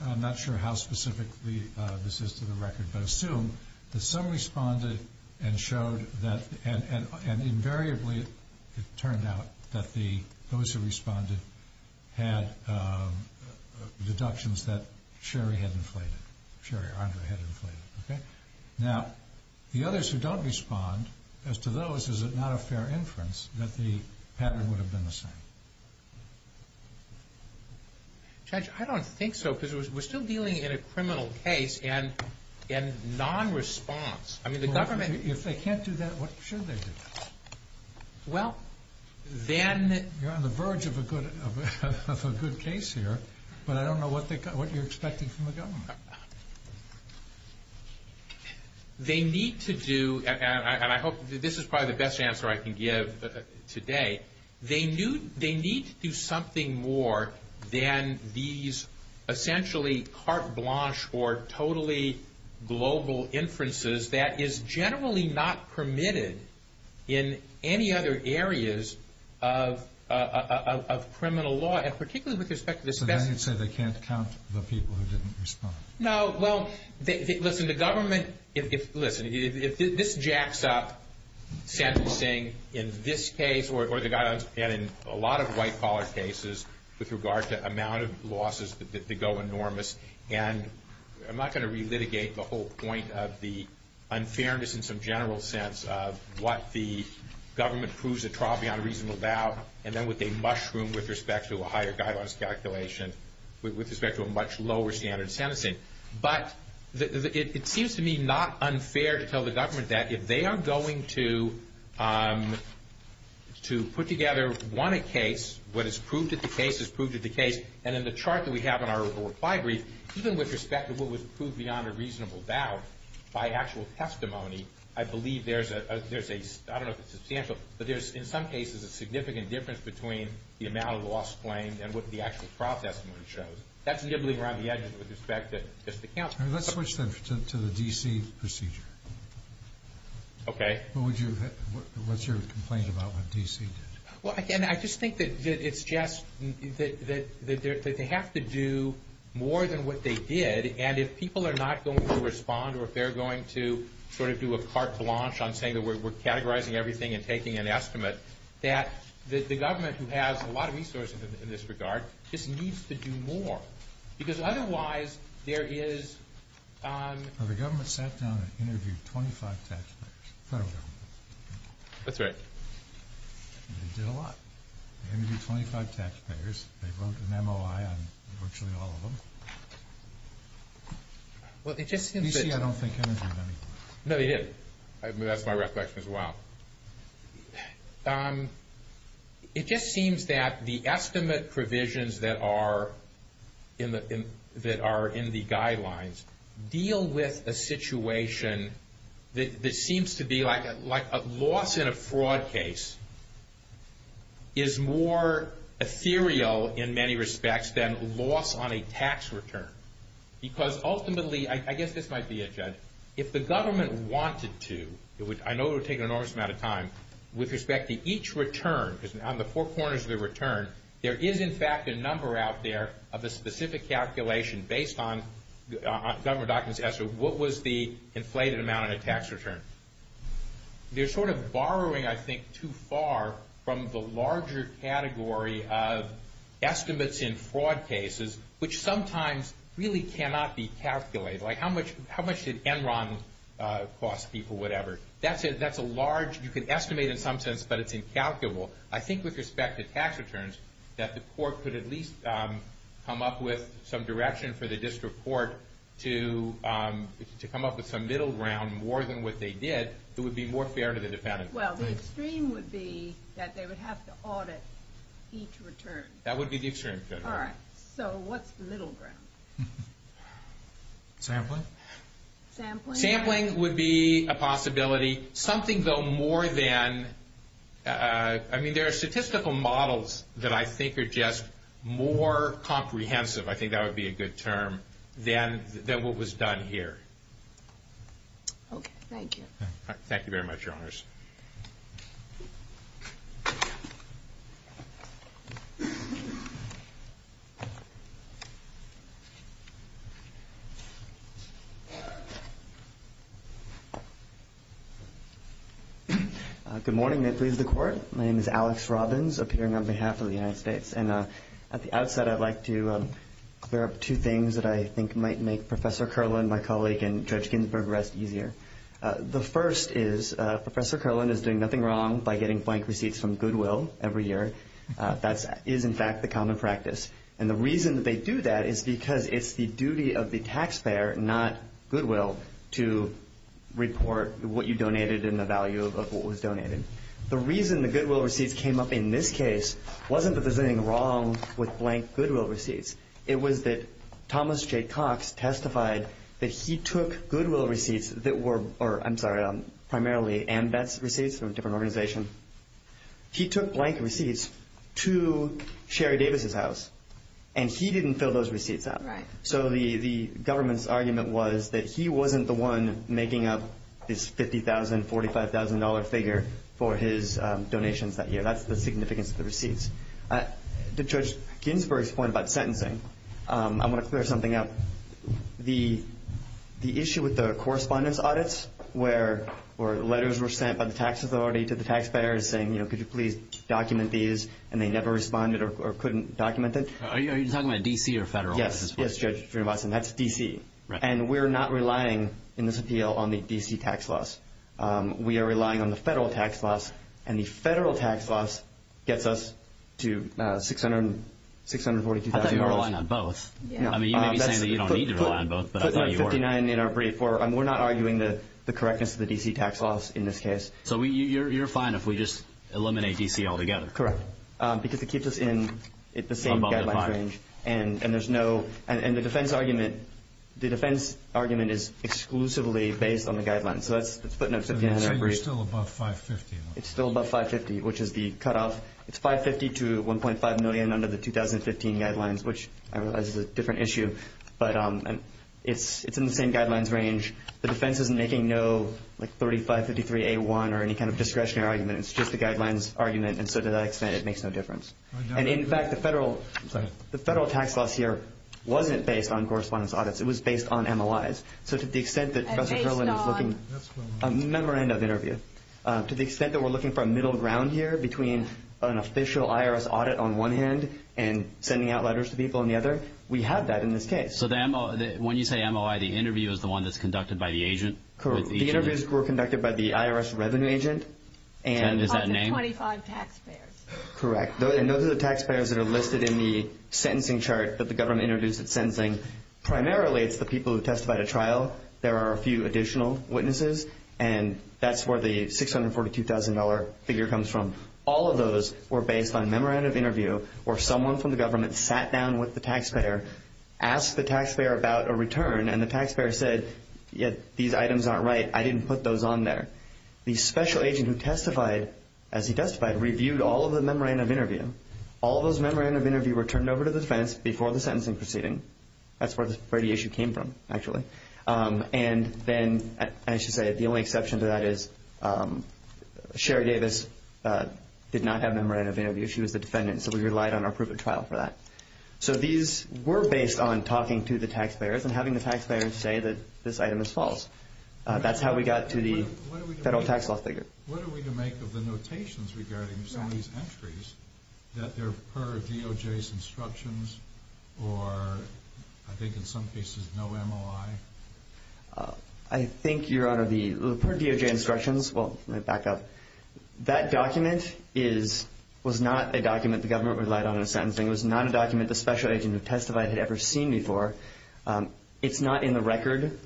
I'm not sure how specifically this is to the record, but assume that some responded and showed that... Invariably, it turned out that those who responded had deductions that Sherry had inflated, Sherry Andre had inflated. Now, the others who don't respond, as to those, is it not a fair inference that the pattern would have been the same? Judge, I don't think so because we're still dealing in a criminal case and non-response. If they can't do that, what should they do? Well, then... You're on the verge of a good case here, but I don't know what you're expecting from the government. They need to do... And I hope this is probably the best answer I can give today. They need to do something more than these essentially carte blanche or totally global inferences that is generally not permitted in any other areas of criminal law, and particularly with respect to this... So then you'd say they can't count the people who didn't respond? No, well, listen, the government... Listen, if this jacks up sentencing in this case, or they've got a lot of white-collar cases with regard to amount of losses that go enormous, and I'm not going to relitigate the whole point of the unfairness in some general sense of what the government proves a trial beyond a reasonable doubt, and then what they mushroom with respect to a higher guidelines calculation with respect to a much lower standard of sentencing. But it seems to me not unfair to tell the government that if they are going to put together, one, a case, what is proved at the case is proved at the case, and in the chart that we have in our report 5 brief, even with respect to what was proved beyond a reasonable doubt by actual testimony, I believe there's a... I don't know if it's a sample, but there's in some cases a significant difference between the amount of lost claims and what the actual trial testimony shows. That's really around the edge with respect to... Let's switch then to the DC procedure. Okay. What's your complaint about what DC did? Well, again, I just think that it's just... that they have to do more than what they did, and if people are not going to respond or if they're going to sort of do a carte blanche on saying that we're categorizing everything and taking an estimate, that the government, who has a lot of resources in this regard, just needs to do more, because otherwise there is... Well, the government sat down and interviewed 25 testifiers. The federal government. That's right. They did a lot. They interviewed 25 testifiers. They wrote an MOI on virtually all of them. Well, it just seems that... DC, I don't think, interviewed anyone. No, he did. That's my reflection as well. It just seems that the estimate provisions that are in the guidelines deal with a situation that seems to be like a loss in a fraud case is more ethereal in many respects than loss on a tax return, because ultimately, I guess this might be a judge, if the government wanted to, which I know it would take an enormous amount of time, with respect to each return, on the four corners of the return, there is, in fact, a number out there of a specific calculation based on several documents as to what was the inflated amount of tax return. They're sort of borrowing, I think, too far from the larger category of estimates in fraud cases, which sometimes really cannot be calculated. Like, how much did Enron cost people, whatever? That's a large... You can estimate in some sense, but it's incalculable. I think with respect to tax returns, that the court could at least come up with some direction for the district court to come up with some middle ground, more than what they did, it would be more fair to the defendant. Well, the extreme would be that they would have to audit each return. That would be the extreme. All right, so what's the middle ground? Sampling? Sampling? Sampling would be a possibility, something, though, more than... I mean, there are statistical models that I think are just more comprehensive. I think that would be a good term, than what was done here. Okay, thank you. Thank you very much, Your Honors. Good morning. This is the court. My name is Alex Robbins, appearing on behalf of the United States. And at the outset, I'd like to clear up two things that I think might make Professor Kerlin, my colleague, and Judge Ginsburg rest easier. The first is Professor Kerlin is doing nothing wrong by getting blank receipts from Goodwill every year. That is, in fact, the common practice. And the reason that they do that is because it's the duty of the taxpayer, not Goodwill, to report what you donated and the value of what was donated. The reason the Goodwill receipts came up in this case wasn't that there's anything wrong with blank Goodwill receipts. It was that Thomas J. Cox testified that he took Goodwill receipts that were, or I'm sorry, primarily, and that's receipts from different organizations. He took blank receipts to Sherry Davis's house, and he didn't fill those receipts out. So the government's argument was that he wasn't the one making up this $50,000, $45,000 figure for his donations that year. So that's the significance of the receipts. To Judge Ginsburg's point about sentencing, I want to clear something up. The issue with the correspondence audits where letters were sent by the tax authority to the taxpayer saying, you know, could you please document these, and they never responded or couldn't document it. Are you talking about D.C. or federal? Yes, Judge, and that's D.C. And we're not relying, in this appeal, on the D.C. tax laws. We are relying on the federal tax laws, and the federal tax laws get us to $645,000. I thought you were relying on both. I mean, you may be saying that you don't need to rely on both, but I thought you were. We're not arguing the correctness of the D.C. tax laws in this case. So you're fine if we just eliminate D.C. altogether? Correct, because it keeps us in the same guideline range, and there's no... And the defense argument... The defense argument is exclusively based on the guidelines. So that's putting up $5,500. It's still about $550,000. It's still about $550,000, which is the cutoff. It's $550,000 to $1.5 million under the 2015 guidelines, which I realize is a different issue, but it's in the same guidelines range. The defense isn't making no, like, 3553A1 or any kind of discretionary argument. It's just a guidelines argument, and to that extent, it makes no difference. And in fact, the federal tax law here wasn't based on correspondence audits. It was based on MLIs. So to the extent that... And based on... A memorandum of interviews. To the extent that we're looking for a middle ground here between an official IRS audit on one hand and sending out letters to people on the other, we have that in this case. So the ML... When you say MOI, the interview is the one that's conducted by the agent? Correct. The interviews were conducted by the IRS resident agent, and... And is that name... Of the 25 taxpayers. Correct. And those are the taxpayers that are listed in the sentencing chart for the government interviews that's sentencing. Primarily, it's the people who testified at trial. There are a few additional witnesses, and that's where the $642,000 figure comes from. All of those were based on memorandum of interview where someone from the government sat down with the taxpayer, asked the taxpayer about a return, and the taxpayer said, you know, these items aren't right. I didn't put those on there. The special agent who testified, as he testified, reviewed all of the memorandum of interview. All those memorandum of interview were turned over to the defense before the sentencing proceeding. That's where the radiation came from, actually. And then, I should say, the only exception to that is Sherry Davis did not have memorandum of interview. She was the defendant, so we relied on our proof of trial for that. So these were based on talking to the taxpayers and having the taxpayers say that this item is false. That's how we got to the federal tax law figure. What are we going to make of the notations regarding some of these entries that are per DOJ's instructions or I think in some cases there's no MOI? I think, Your Honor, the per DOJ instructions, well, let me back up. That document was not a document the government relied on in sentencing. It was not a document the special agent who testified had ever seen before. It's not in the record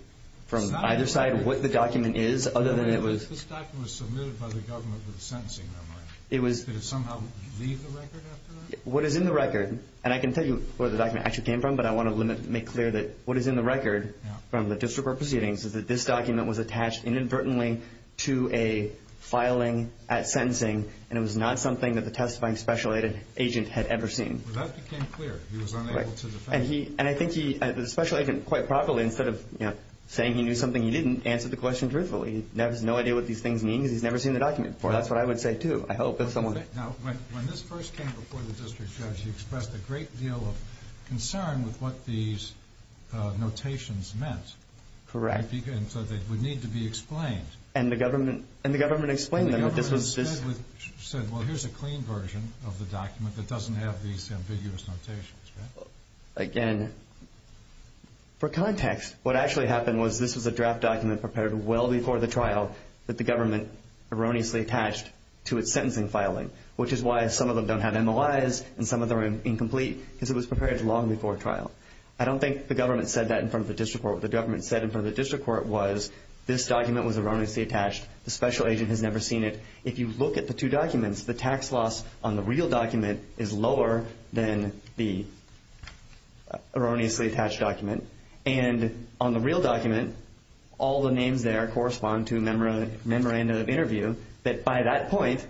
from either side what the document is, other than it was... This document was submitted by the government with a sentencing number. It was... Did it somehow leave the record after that? What is in the record, and I can tell you where the document actually came from, but I want to make clear that what is in the record from the district court proceedings is that this document was attached inadvertently to a filing at sentencing and it was not something that the testifying special agent had ever seen. That became clear. He was unable to defend... And I think he... The special agent quite probably instead of saying he knew something he didn't, answered the question truthfully. He has no idea what these things mean because he's never seen the document before. That's what I would say, too. I hope that someone... Now, when this first came before the district judge, he expressed a great deal of concern with what these notations meant. Correct. And so they would need to be explained. And the government... And the government explained them... And the government said, well, here's a clean version of the document that doesn't have these ambiguous notations. Again, for context, what actually happened was this was a draft document prepared well before the trial that the government erroneously attached to its sentencing filing, which is why some of them don't have MOIs and some of them are incomplete because it was prepared long before trial. I don't think the government said that in front of the district court. What the government said in front of the district court was this document was erroneously attached. The special agent has never seen it. If you look at the two documents, the tax loss on the real document is lower than the erroneously attached document. And on the real document, all the names there correspond to a memorandum of interview that by that point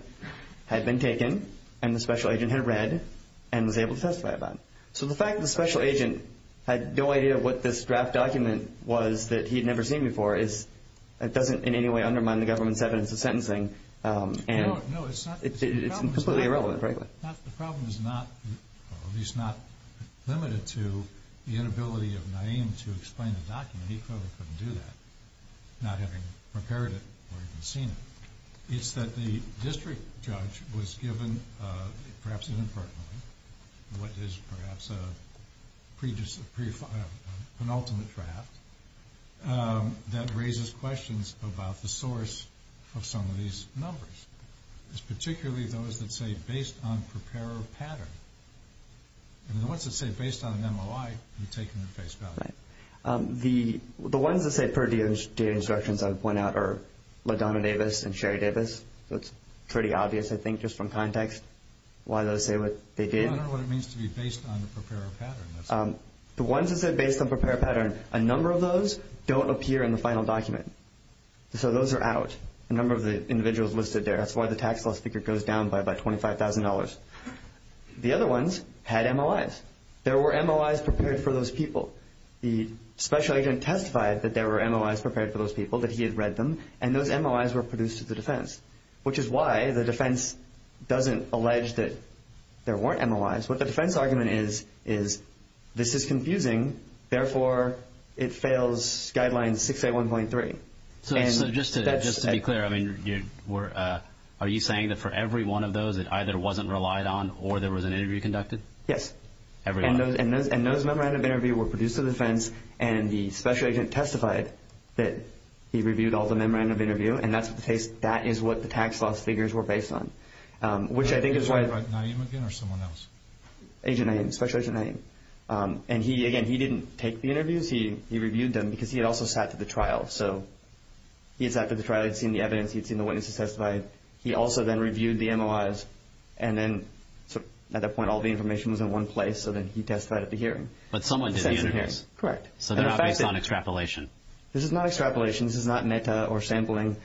had been taken and the special agent had read and was able to testify about it. So the fact that the special agent had no idea what this draft document was that he had never seen before doesn't in any way undermine the government's evidence of sentencing. It's completely irrelevant, frankly. The problem is not limited to the inability of Naeem to explain the document. He probably couldn't do that, not having prepared it or even seen it. It's that the district judge was given, perhaps inadvertently, what is perhaps a penultimate draft that raises questions about the source of some of these numbers. It's particularly those that say based on preparer pattern. And the ones that say based on MOI have taken the case down. The ones that say per data instructions I would point out are LaDonna Davis and Sherry Davis. It's pretty obvious, I think, just from context why those say what they did. I don't know what it means to be based on the preparer pattern. The ones that say based on preparer pattern, a number of those don't appear in the final document. So those are out. The number of the individuals listed there, that's why the tax bill sticker goes down by about $25,000. The other ones had MOIs. There were MOIs prepared for those people. The special agent testified that there were MOIs prepared for those people, that he had read them, and those MOIs were produced to the defense, which is why the defense doesn't allege that there weren't MOIs. What the defense argument is is this is confusing, therefore, it fails Guideline 681.3. So just to be clear, I mean, are you saying that for every one of those it either wasn't relied on or there was an interview conducted? Yes. And those memorandum of interview were produced to the defense, and the special agent testified that he reviewed all the memorandum of interview, and that's the case. So that is what the tax loss figures were based on, which I think is why... Was it like Naeem again or someone else? Agent Naeem, special agent Naeem. And he, again, he didn't take the interviews. He reviewed them because he had also sat through the trial. So he had sat through the trial. He had seen the evidence. He had seen the witnesses testify. He also then reviewed the MOIs, and then at that point all the information was in one place, so then he testified at the hearing. But someone did the interviews. Correct. So they're not based on extrapolation. This is not extrapolation. This is not meta or sampling.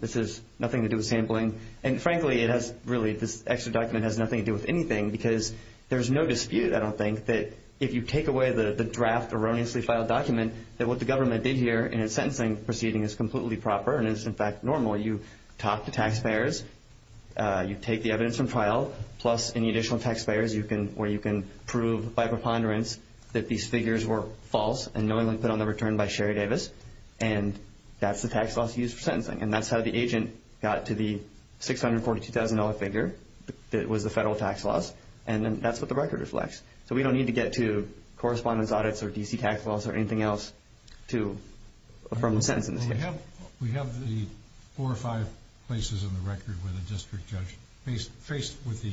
This has nothing to do with sampling. And frankly, it has really... This extra document has nothing to do with anything because there's no dispute, I don't think, that if you take away the draft erroneously filed document that what the government did here in its sentencing proceeding is completely proper and is, in fact, normal. You talk to taxpayers. You take the evidence from trial plus any additional taxpayers where you can prove by preponderance that these figures were false and no one put on the return by Sherry Davis. And that's the tax laws used for sentencing. And that's how the agent got to the $642,000 figure that was the federal tax laws. And then that's what the record reflects. So we don't need to get to correspondence audits or DC tax laws or anything else to affirm the sentencing. We have the four or five places on the record where the district judge faced with the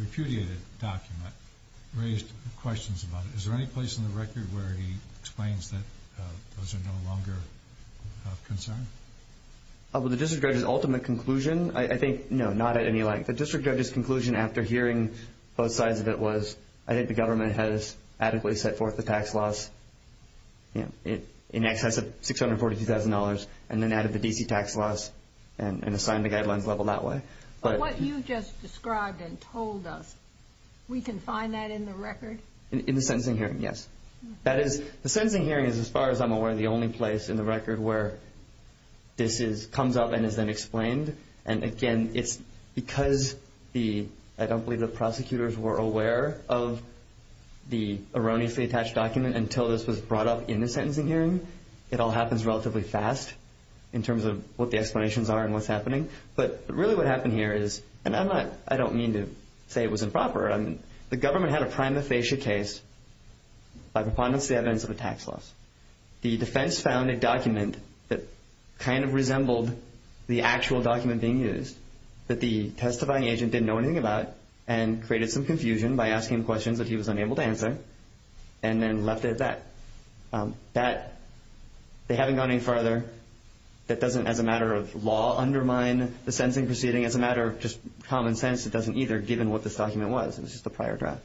repudiated document raised questions about it. Is there any place on the record where he explains that those are no longer concerned? Well, the district judge's ultimate conclusion, I think, you know, not at any length. The district judge's conclusion after hearing both sides of it was I think the government has adequately set forth the tax laws in excess of $642,000 and then added the DC tax laws and assigned the guidelines level that way. But what you just described and told us, we can find that in the record? In the sentencing hearing, yes. The sentencing hearing is, as far as I'm aware, the only place in the record where this comes up and is then explained. And again, because I don't believe the prosecutors were aware of the erroneously attached document until this was brought up in the sentencing hearing, it all happens relatively fast in terms of what the explanations are and what's happening. But really what happened here is, and I don't mean to say it was improper. The government had a prima facie case by compliance with the events of the tax laws. The defense found a document that kind of resembled the actual document being used that the testifying agent didn't know anything about and created some confusion by asking questions that he was unable to answer and then left it at that. They haven't gone any further. That doesn't, as a matter of law, undermine the sentencing proceeding. As a matter of just common sense, it doesn't either given what this document was. It's just a prior draft.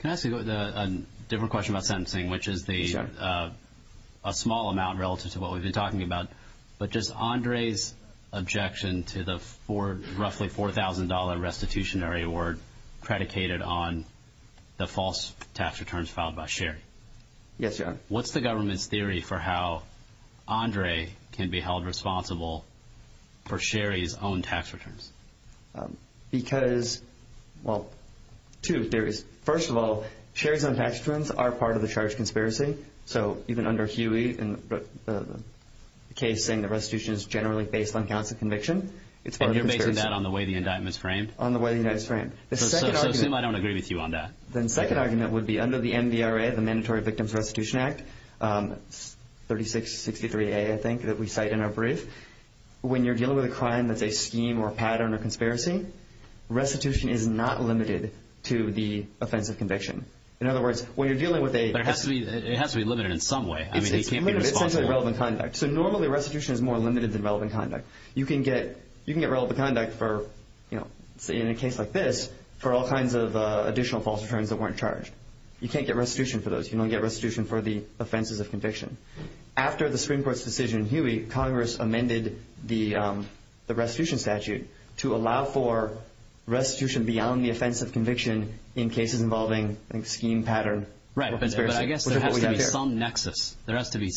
Can I ask you a different question about sentencing, which is a small amount relative to what we've been talking about, but just Andre's objection to the roughly $4,000 restitutionary award predicated on the false tax returns filed by Sherry. Yes, John. What's the government's theory for how Andre can be held responsible for Sherry's own tax returns? Because, well, two theories. First of all, Sherry's own tax returns are part of the charge conspiracy. So even under Huey, the case saying the restitution is generally based on counts of conviction. And you're making that on the way the indictment's framed? On the way the indictment's framed. The second argument would be... I don't agree with you on that. The second argument would be under the NDRA, the Mandatory Victims of Restitution Act, 3663A, I think, that we cite in our brief, when you're dealing with a crime that's a scheme or pattern or conspiracy, restitution is not limited to the offense of conviction. In other words, when you're dealing with a... But it has to be limited in some way. I mean, it can't be... It has to be relevant conduct. So normally restitution is more limited than relevant conduct. You can get relevant conduct for, you know, in a case like this, for all kinds of additional false returns that weren't charged. You can't get restitution for those. You don't get restitution for the offenses of conviction. After the Supreme Court's decision in Huey, Congress amended the restitution statute to allow for restitution beyond the offense of conviction in cases involving a scheme, pattern... Right. But I guess there has to be some nexus. There has to be...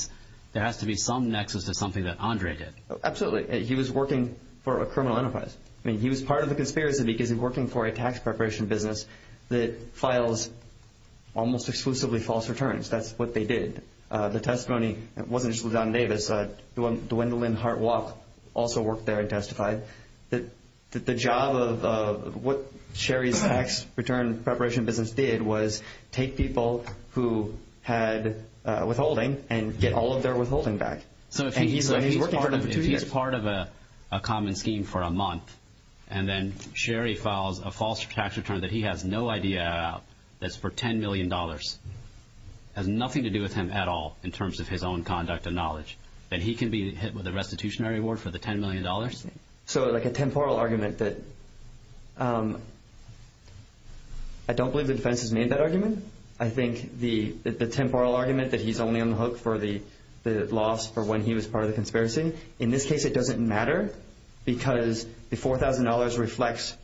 There has to be some nexus to something that Andre did. Absolutely. He was working for a criminal enterprise. I mean, he was part of the conspiracy because he was working for a tax preparation business that files almost exclusively false returns. That's what they did. The testimony wasn't just with John Davis. Dwendalyn Hart-Walk also worked there and testified. The job of what Sherry's tax return preparation business did was take people who had withholding and get all of their withholding back. So if he's working for... If he's part of a common scheme for a month and then Sherry files a false tax return that he has no idea about that's for $10 million, has nothing to do with him at all in terms of his own conduct and knowledge, that he can be hit with a restitutionary award for the $10 million? So like a temporal argument that... I don't believe the defense has made that argument. I think the temporal argument that he's only on the hook for the loss for when he was part of the conspiracy, in this case it doesn't matter because the $4,000 reflects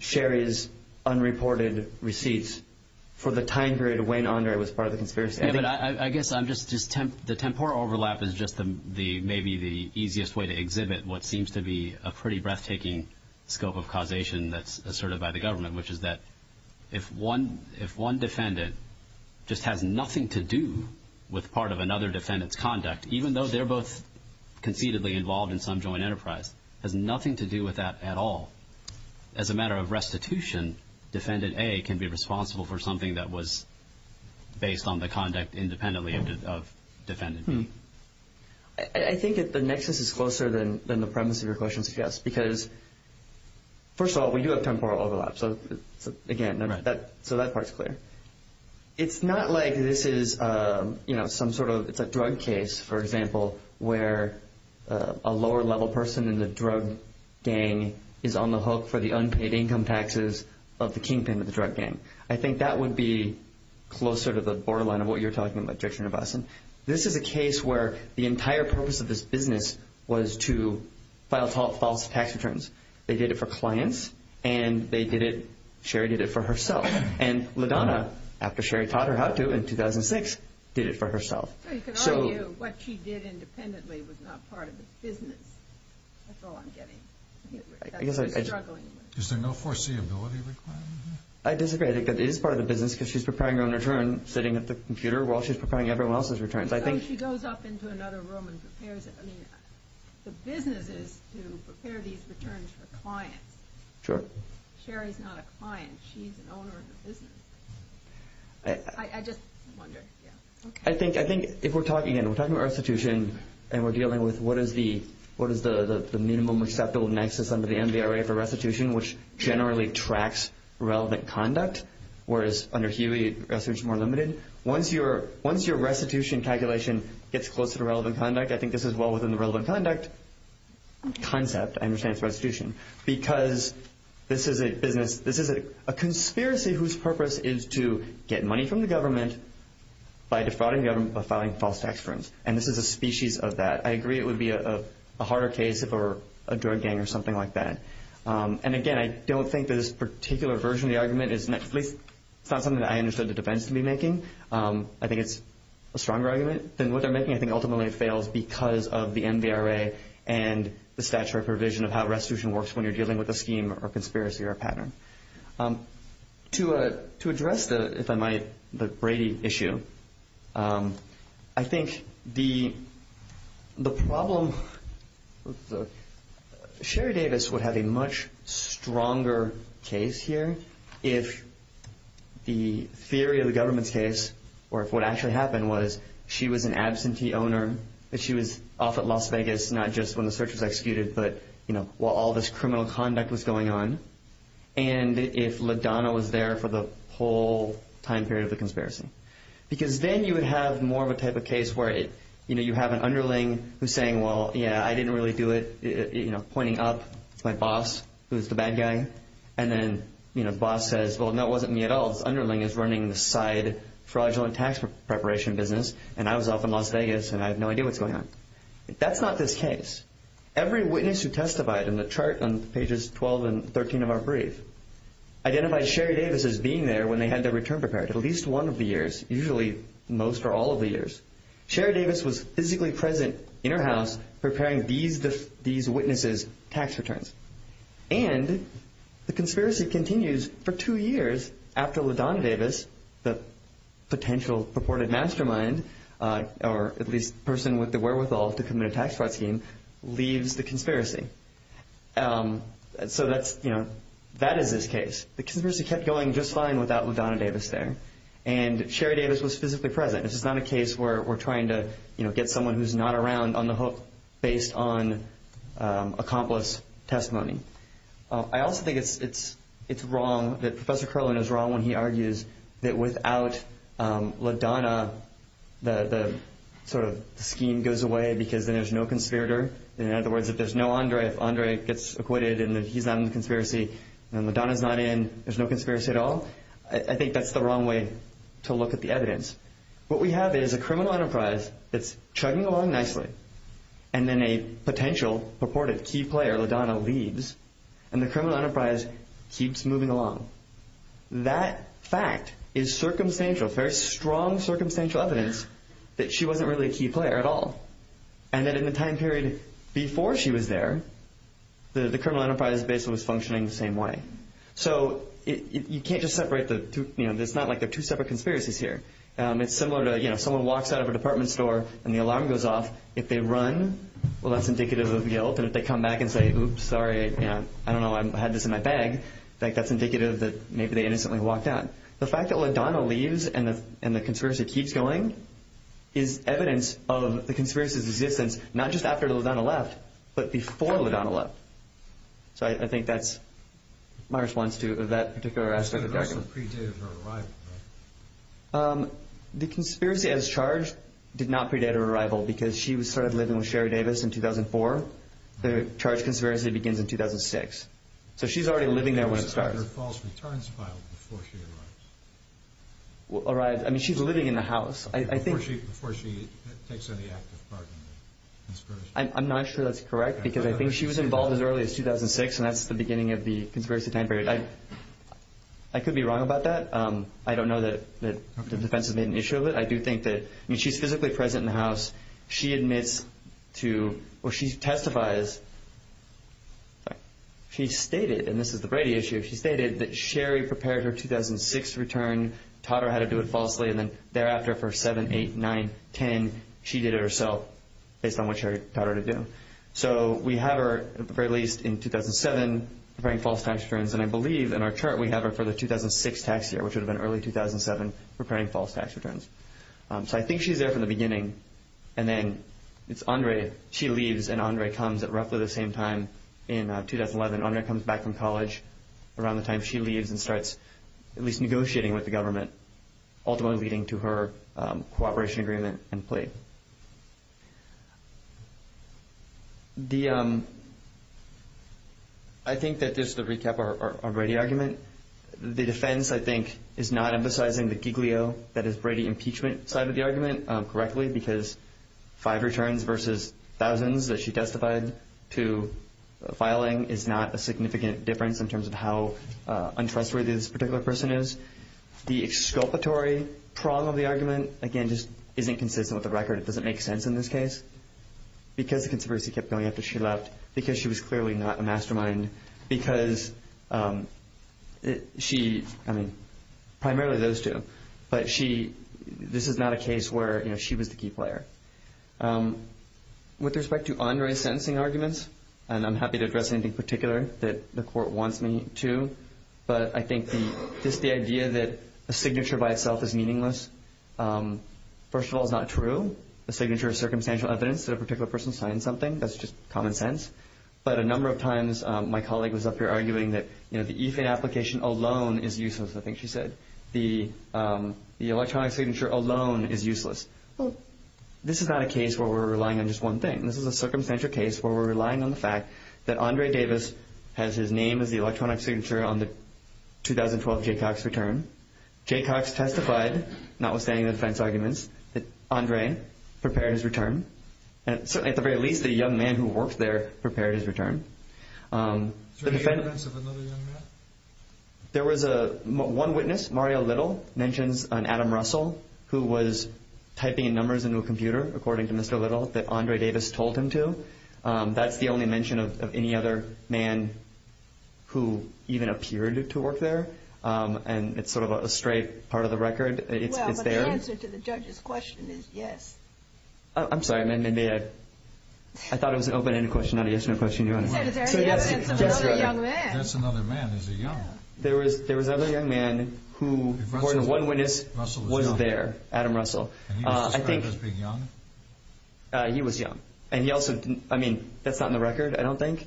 Sherry's unreported receipts for the time period when Andre was part of the conspiracy. I guess I'm just... The temporal overlap is just maybe the easiest way to exhibit what seems to be a pretty breathtaking scope of causation that's asserted by the government, which is that if one defendant just has nothing to do with part of another defendant's conduct, even though they're both conceivably involved in some joint enterprise, has nothing to do with that at all, as a matter of restitution, defendant A can be responsible for something that was based on the conduct independently of defendant B. I think the nexus is closer than the premise of your question suggests because, first of all, we do have temporal overlap, so that part's clear. It's not like this is some sort of... It's a drug case, for example, where a lower-level person in the drug gang is on the hook for the unpaid income taxes of the kingpin of the drug gang. I think that would be closer to the borderline of what you're talking about, Director Nivasan. This is a case where the entire purpose of this business was to file false tax returns. They did it for clients, and they did it... Sherry did it for herself. And LaDonna, after Sherry taught her how to in 2006, did it for herself. What she did independently was not part of the business. That's all I'm getting. Is there no foreseeability requirement? I disagree. It is part of the business because she's preparing her own return sitting at the computer while she's preparing everyone else's returns. She goes up into another room and prepares it. The business is to prepare these returns for clients. Sure. Sherry's not a client. She's an owner of the business. I just wonder. I think if we're talking... We're talking about restitution, and we're dealing with what is the minimum acceptable nexus under the NBRA for restitution, which generally tracks relevant conduct, whereas under Huey, restitution is more limited. Once your restitution calculation gets close to relevant conduct, I think this is well within the relevant conduct concept, I understand, for restitution, because this is a business... This is a conspiracy whose purpose is to get money from the government by defrauding the government by filing false tax returns. And this is a species of that. I agree it would be a harder case if it were a drug gang or something like that. And again, I don't think that this particular version of the argument is something that I understood the defense would be making. I think it's a stronger argument than what they're making. I think ultimately it fails because of the NBRA and the statutory provision of how restitution works when you're dealing with a scheme or conspiracy or a pattern. To address, if I might, the Brady issue, I think the problem... Sherry Davis would have a much stronger case here if the theory of the government's case, or if what actually happened was she was an absentee owner, that she was off at Las Vegas, not just when the search was executed, but while all this criminal conduct was going on, and if LaDonna was there for the whole time period of the conspiracy. Because then you would have more of a type of case where you have an underling who's saying, well, yeah, I didn't really do it, pointing up to my boss, who's the bad guy, and then boss says, well, no, it wasn't me at all. The underling is running the side fraudulent tax preparation business, and I was off in Las Vegas, and I have no idea what's going on. That's not the case. Every witness who testified in the chart on pages 12 and 13 of our brief identified Sherry Davis as being there at least one of the years. Usually most or all of the years. Sherry Davis was physically present in her house preparing these witnesses' tax returns. And the conspiracy continues for two years after LaDonna Davis, the potential purported mastermind, or at least person with the wherewithal to commit a tax fraud scheme, leaves the conspiracy. So that is his case. The conspiracy kept going just fine without LaDonna Davis there, and Sherry Davis was physically present. This is not a case where we're trying to, you know, get someone who's not around on the hook based on accomplice testimony. I also think it's wrong, that Professor Kerlin is wrong when he argues that without LaDonna, the sort of scheme goes away because then there's no conspirator. In other words, if there's no Andre, Andre gets acquitted, and he's not in the conspiracy, and LaDonna's not in, there's no conspiracy at all. I think that's the wrong way to look at the evidence. What we have is a criminal enterprise that's treading along nicely, and then a potential purported key player, LaDonna, leaves, and the criminal enterprise keeps moving along. That fact is circumstantial, very strong circumstantial evidence that she wasn't really a key player at all, and that in the time period before she was there, the criminal enterprise basically was functioning the same way. So you can't just separate the two, you know, it's similar to, you know, someone walks out of a department store, and the alarm goes off. If they run, well, that's indicative of guilt, and if they come back and say, oops, sorry, I don't know, I had this in my bag, I think that's indicative that maybe they innocently walked out. The fact that LaDonna leaves, and the conspiracy keeps going, is evidence of the conspiracy's existence, not just after LaDonna left, but before LaDonna left. So I think that's my response to that particular question. So the rest was predated her arrival, right? The conspiracy as charged did not predate her arrival, because she started living with Sherry Davis in 2004. The charge of conspiracy begins in 2006. So she's already living there when it started. Was there a false return spot before she arrived? Arrived, I mean, she's living in the house. Before she takes any active part in the conspiracy. I'm not sure that's correct, because I think she was involved as early as 2006, and that's the beginning of the conspiracy time period. I could be wrong about that. I don't know that the defense has made an issue of it. I do think that, I mean, she's physically present in the house. She admits to, or she testifies, she stated, and this is a Brady issue, she stated that Sherry prepared her 2006 return, taught her how to do it falsely, and then thereafter for 7, 8, 9, 10, she did it herself based on what Sherry taught her to do. So we have her, at the very least, in 2007, preparing false tax returns, and I believe in our chart we have her for the 2006 tax year, which would have been early 2007, preparing false tax returns. So I think she's there from the beginning, and then it's Andre, she leaves, and Andre comes at roughly the same time in 2011. Andre comes back from college around the time she leaves ultimately leading to her cooperation agreement in place. I think that this is a recap of our Brady argument. The defense, I think, is not emphasizing the Giglio, that is Brady impeachment side of the argument correctly because 5 returns versus thousands that she testified to filing is not a significant difference in terms of how untrustworthy this particular person is. The exculpatory prong of the argument, again, just isn't consistent with the record. It doesn't make sense in this case because the controversy kept going after she left, because she was clearly not a mastermind, because she, I mean, primarily those two, but this is not a case where she was the key player. With respect to Andre's sentencing arguments, and I'm happy to address anything particular that the court wants me to, but I think just the idea that a signature by itself is meaningless, first of all, is not true. A signature is circumstantial evidence that a particular person signed something. That's just common sense. But a number of times my colleague was up here arguing that, you know, the E-FIN application alone is useless, I think she said. The electronic signature alone is useless. This is not a case where we're relying on just one thing. This is a circumstantial case where we're relying on the fact that Andre Davis has his name as the electronic signature on the 2012 Jaycox return. Jaycox testified, notwithstanding the defense arguments, that Andre prepared his return. At the very least, the young man who worked there prepared his return. The defense of another young man? There was one witness, Mario Little, mentioned Adam Russell, who was typing numbers into a computer, according to Mr. Little, that Andre Davis told him to. That's the only mention of any other man who even appeared to work there, and it's sort of a stray part of the record. Well, but the answer to the judge's question is yes. I'm sorry. I thought it was an open-ended question. I didn't get to question you on it. There was another young man. That's another man who's a young man. There was another young man who, according to one witness, was there, Adam Russell. And he was young? He was young. I mean, that's not in the record, I don't think.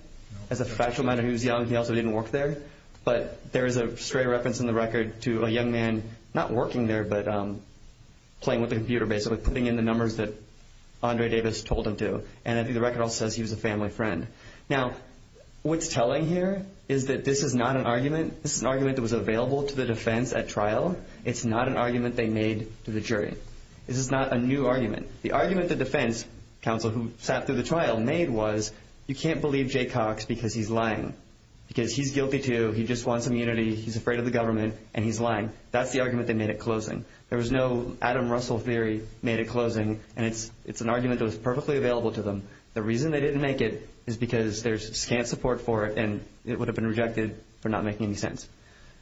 As a factual matter, he was young. He also didn't work there. But there is a stray reference in the record to a young man not working there but playing with a computer, basically putting in the numbers that Andre Davis told him to. And the record also says he was a family friend. Now, what's telling here is that this is not an argument. This is an argument that was available to the defense at trial. It's not an argument they made to the jury. This is not a new argument. The argument the defense counsel who sat through the trial made was, you can't believe Jay Cox because he's lying, because he's guilty too, he just wants immunity, he's afraid of the government, and he's lying. That's the argument they made at closing. There was no Adam Russell theory made at closing, and it's an argument that was perfectly available to them. The reason they didn't make it is because there's scant support for it and it would have been rejected for not making any sense.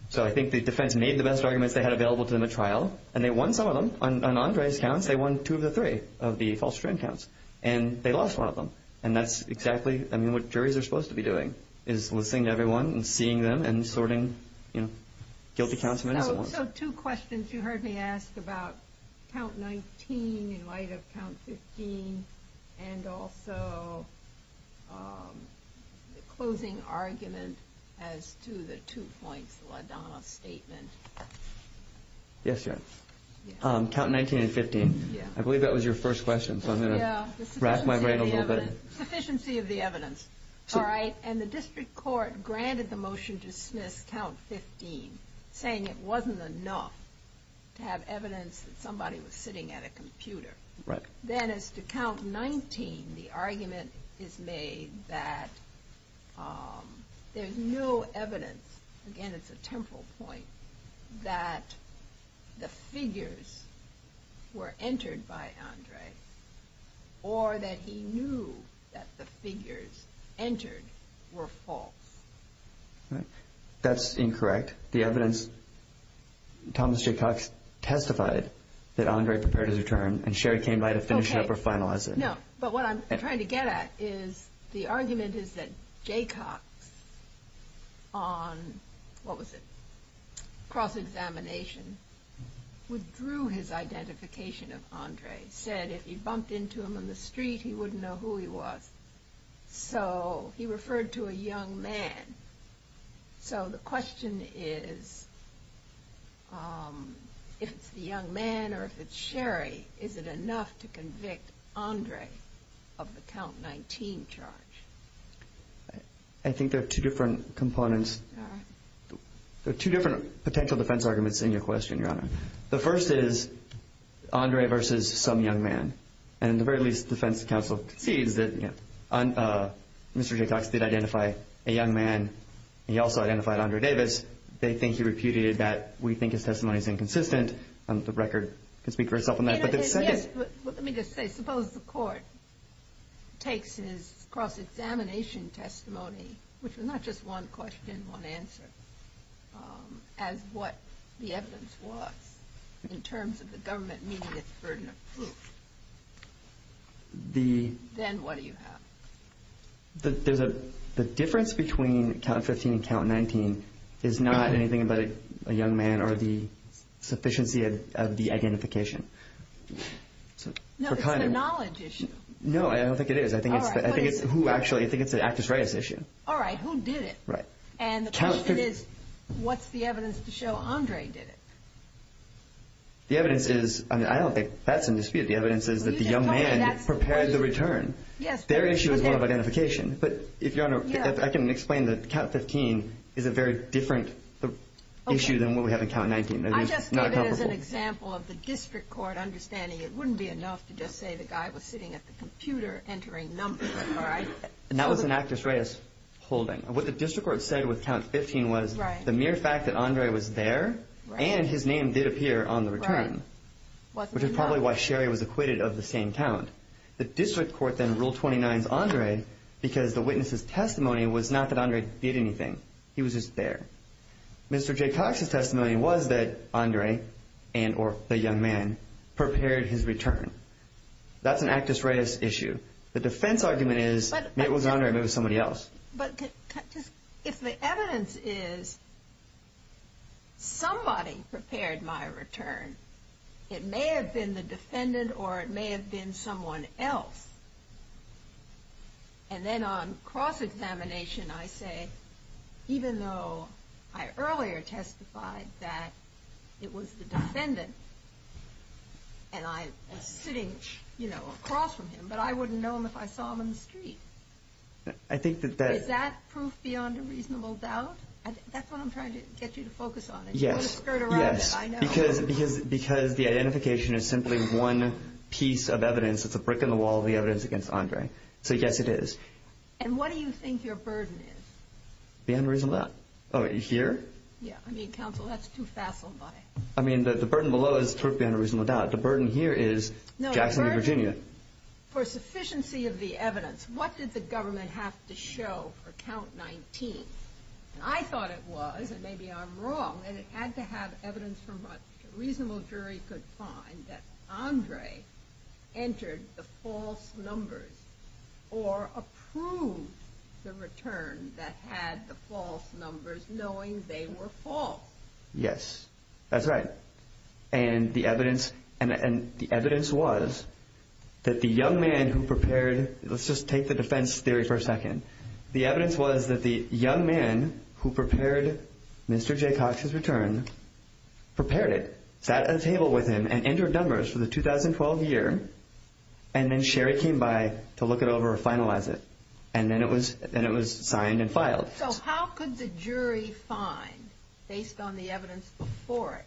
So I think the defense made the best argument they had available to them at trial, and they won some of them. On Andre's count, they won two of the three of the false friend counts, and they lost one of them. And that's exactly, I mean, what juries are supposed to be doing, is listening to everyone and seeing them and sorting, you know, guilty counts. So two questions you heard me ask about count 19 in light of count 15 and also the closing argument as to the 2.1 dollar statement. Yes, yes. Count 19 and 15. I believe that was your first question, so I'm going to rasp my brain a little bit. Sufficiency of the evidence. All right. And the district court granted the motion to dismiss count 15, saying it wasn't enough to have evidence that somebody was sitting at a computer. Then as to count 19, the argument is made that there's no evidence, again, it's a temporal point, that the figures were entered by Andre or that he knew that the figures entered were false. That's incorrect. The evidence, Thomas Jaycox testified that Andre prepared his return and Sherry came by to finish it up or finalize it. No, but what I'm trying to get at is the argument is that Jaycox on, what was it, cross-examination withdrew his identification of Andre, said if you bumped into him on the street, he wouldn't know who he was. So he referred to a young man. So the question is if it's a young man or if it's Sherry, is it enough to convict Andre of the count 19 charge? I think there are two different components. There are two different potential defense arguments in your question, Your Honor. The first is Andre versus some young man. And the very least defense counsel agrees that Mr. Jaycox did identify a young man. He also identified Andre Davis. They think he repudiated that. We think his testimony is inconsistent. Let me just say, suppose the court takes his cross-examination testimony, which is not just one question, one answer, as what the evidence was in terms of the government meeting its burden of proof. Then what do you have? The difference between count 15 and count 19 is not anything about a young man or the sufficiency of the identification. No, it's a knowledge issue. No, I don't think it is. I think it's the access rights issue. All right, who did it? Right. And the question is what's the evidence to show Andre did it? The evidence is, I don't think that's in dispute. The evidence is that the young man prepared the return. Their issue is one of identification. I can explain that count 15 is a very different issue than what we have in count 19. I just gave it as an example of the district court understanding it wouldn't be enough to just say the guy was sitting at the computer entering numbers. That was an access rights holding. What the district court said with count 15 was the mere fact that Andre was there and his name did appear on the return, which is probably why Sherry was acquitted of the same count. The district court then ruled 29 as Andre because the witness' testimony was not that Andre did anything. He was just there. Mr. J. Cox's testimony was that Andre and or the young man prepared his return. That's an access rights issue. The defense argument is maybe it was Andre, maybe it was somebody else. But if the evidence is somebody prepared my return, it may have been the defendant or it may have been someone else. Then on cross-examination, I say even though I earlier testified that it was the defendant and I was sitting across from him, but I wouldn't know him if I saw him in the street. Is that proof beyond a reasonable doubt? That's what I'm trying to get you to focus on. Yes, because the identification is simply one piece of evidence. It's a brick in the wall of the evidence against Andre. So, yes, it is. And what do you think your burden is? Beyond a reasonable doubt. Here? Yeah. I mean, counsel, that's too facile. I mean, the burden below is proof beyond a reasonable doubt. The burden here is Jack Henry Virginia. For sufficiency of the evidence, what did the government have to show for count 19? I thought it was, and maybe I'm wrong, and it had to have evidence from what a reasonable jury could find that Andre entered the false numbers or approved the return that had the false numbers knowing they were false. Yes, that's right. And the evidence was that the young man who prepared, let's just take the defense theory for a second. The evidence was that the young man who prepared Mr. J. Cox's return prepared it, sat at a table with him and entered numbers for the 2012 year, and then Sherry came by to look it over or finalize it, and then it was signed and filed. So how could the jury find, based on the evidence before it,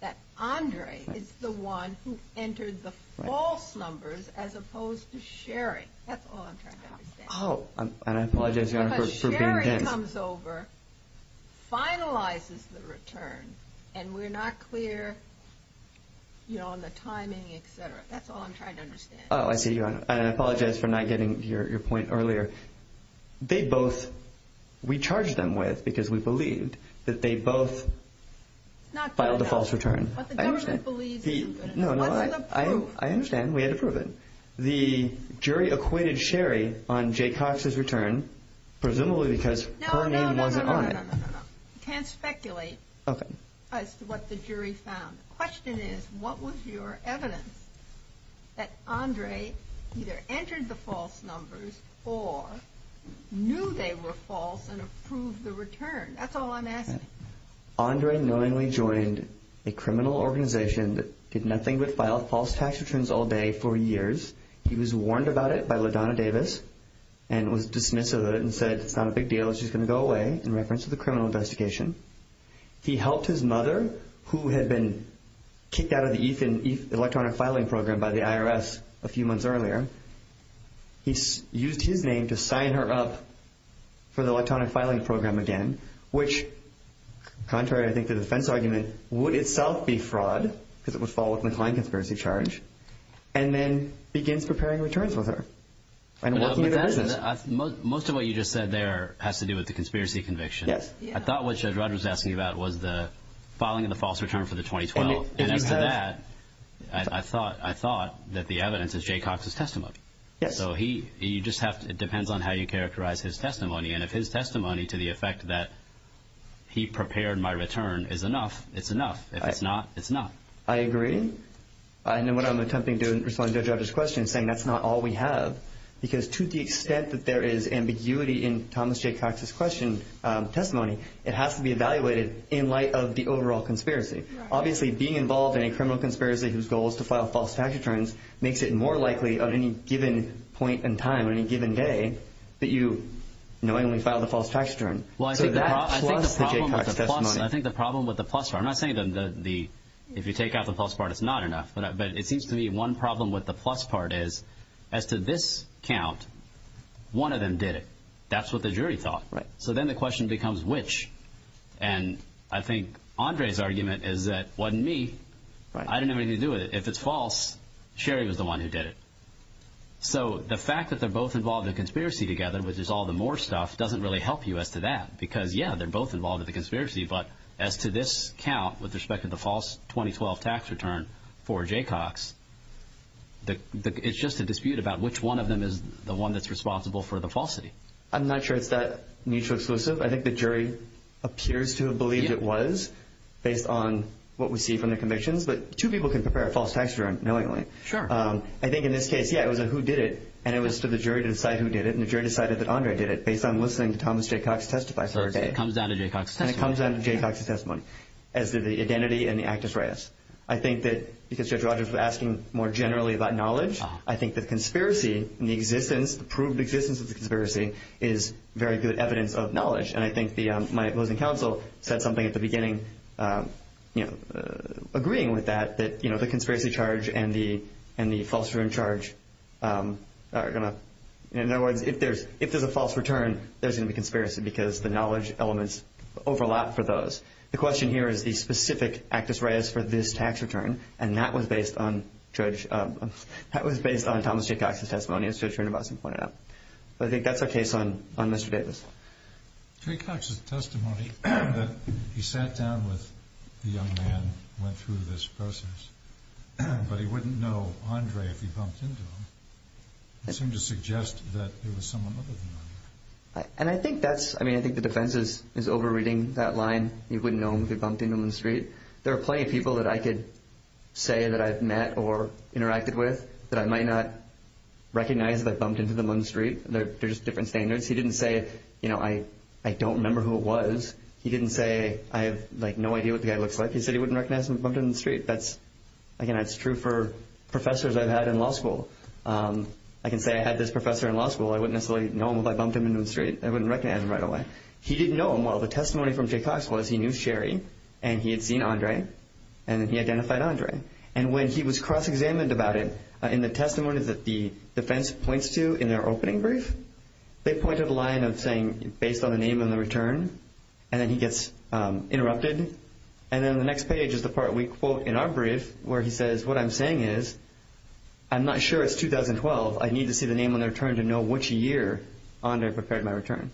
that Andre is the one who entered the false numbers as opposed to Sherry? That's all I'm trying to understand. Oh, and I apologize, Your Honor, for being vague. Because Sherry comes over, finalizes the return, and we're not clear on the timing, et cetera. That's all I'm trying to understand. Oh, I see, Your Honor. And I apologize for not getting to your point earlier. They both, we charged them with, because we believed, that they both filed the false return. But the government believed in them. No, no, I understand. We had to prove it. The jury acquitted Sherry on J. Cox's return, presumably because her name was on it. You can't speculate as to what the jury found. The question is, what was your evidence that Andre either entered the false numbers or knew they were false and approved the return? That's all I'm asking. Andre knowingly joined a criminal organization that did nothing but file false tax returns all day for years. He was warned about it by LaDonna Davis and was dismissive of it and said, it's not a big deal, she's going to go away, in reference to the criminal investigation. He helped his mother, who had been kicked out of the electronic filing program by the IRS a few months earlier. He used his name to sign her up for the electronic filing program again, which, contrary, I think, to the defense argument, would itself be fraud, because it was followed by a conspiracy charge, and then he began preparing returns with her. Most of what you just said there has to do with the conspiracy conviction. I thought what Judge Rogers was asking about was the filing of the false return for the 2012, and after that, I thought that the evidence is J. Cox's testimony. It depends on how you characterize his testimony, and if his testimony to the effect that he prepared my return is enough, it's enough. If it's not, it's not. I agree. I know what I'm attempting to respond to Judge Rogers' question, saying that's not all we have, because to the extent that there is ambiguity in Thomas J. Cox's testimony, it has to be evaluated in light of the overall conspiracy. Obviously, being involved in a criminal conspiracy whose goal is to file false tax returns makes it more likely on any given point in time, on any given day, that you knowingly filed a false tax return. Well, I think the problem with the plus part, I'm not saying if you take out the plus part, it's not enough, but it seems to me one problem with the plus part is, as to this count, one of them did it. That's what the jury thought. So then the question becomes which, and I think Andre's argument is that it wasn't me. I didn't know anything to do with it. If it's false, Sherry was the one who did it. So the fact that they're both involved in a conspiracy together, which is all the Moore stuff, doesn't really help you as to that because, yeah, they're both involved in the conspiracy, but as to this count with respect to the false 2012 tax return for J. Cox, it's just a dispute about which one of them is the one that's responsible for the falsity. I'm not sure it's that mutually exclusive. I think the jury appears to have believed it was based on what we see from the commissions, but two people can prepare a false tax return knowingly. Sure. I think in this case, yeah, it was a who did it, and it was to the jury to decide who did it, and the jury decided that Andre did it based on listening to Thomas J. Cox testify for a day. It comes down to J. Cox's testimony. It comes down to J. Cox's testimony as to the identity and the act of friars. I think that because Judge Rogers was asking more generally about knowledge, I think the conspiracy and the existence, the proved existence of the conspiracy is very good evidence of knowledge, and I think my opposing counsel said something at the beginning, you know, agreeing with that, that, you know, the conspiracy charge and the false return charge are going to, in other words, if there's a false return, there's going to be a conspiracy because the knowledge elements overlap for those. The question here is the specific act of friars for this tax return, and that was based on Judge, that was based on Thomas J. Cox's testimony, as Judge Renabowski pointed out. So I think that's our case on Mr. Davis. J. Cox's testimony that he sat down with the young man who went through this process, but he wouldn't know Andre if he bumped into him. It seems to suggest that there was someone other than him. And I think that's, I mean, I think the defense is over-reading that line, he wouldn't know him if he bumped into him on the street. There are plenty of people that I could say that I've met or interacted with that I might not recognize if I bumped into them on the street. They're just different standards. He didn't say, you know, I don't remember who it was. He didn't say I have, like, no idea what the guy looks like. He said he wouldn't recognize him if he bumped into him on the street. Again, that's true for professors I've had in law school. I can say I had this professor in law school. I wouldn't necessarily know him if I bumped into him on the street. I wouldn't recognize him right away. He didn't know him. Well, the testimony from J. Cox was he knew Sherry, and he had seen Andre, and he identified Andre. And when he was cross-examined about it, in the testimony that the defense points to in their opening brief, they point to the line of saying, based on the name and the return, and then he gets interrupted. And then the next page is the part we quote in our brief where he says, what I'm saying is, I'm not sure it's 2012. I need to see the name and the return to know which year Andre prepared my return.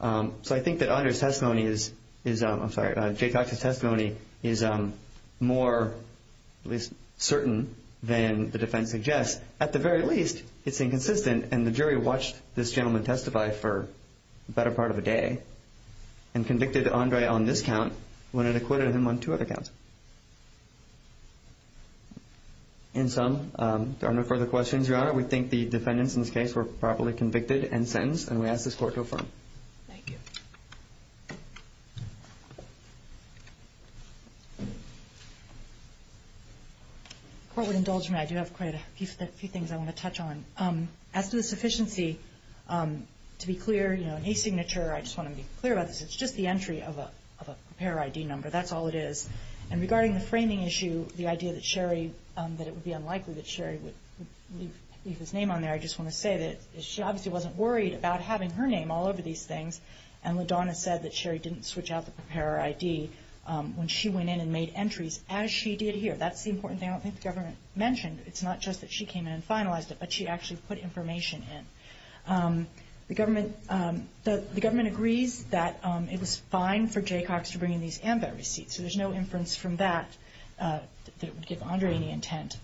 So I think that Andre's testimony is, I'm sorry, J. Cox's testimony is more certain than the defense suggests. At the very least, it's inconsistent, and the jury watched this gentleman testify for the better part of a day and convicted Andre on this count when it acquitted him on two other counts. In sum, if there are no further questions, Your Honor, we think the defendants in this case were properly convicted and sentenced, and we ask this court to affirm. Thank you. Court, with indulgement, I do have quite a few things I want to touch on. As to the sufficiency, to be clear, you know, I want to be clear about this, it's just the entry of a preparer ID number. That's all it is. And regarding the framing issue, the idea that Sherry, that it would be unlikely that Sherry would leave his name on there, I just want to say that she obviously wasn't worried about having her name all over these things, and LaDonna said that Sherry didn't switch out the preparer ID when she went in and made entries as she did here. That's the important thing I don't think the government mentioned. It's not just that she came in and finalized it, but she actually put information in. The government agrees that it was fine for Jay Cox to bring in these ambo receipts, so there's no inference from that that it would get under any intent.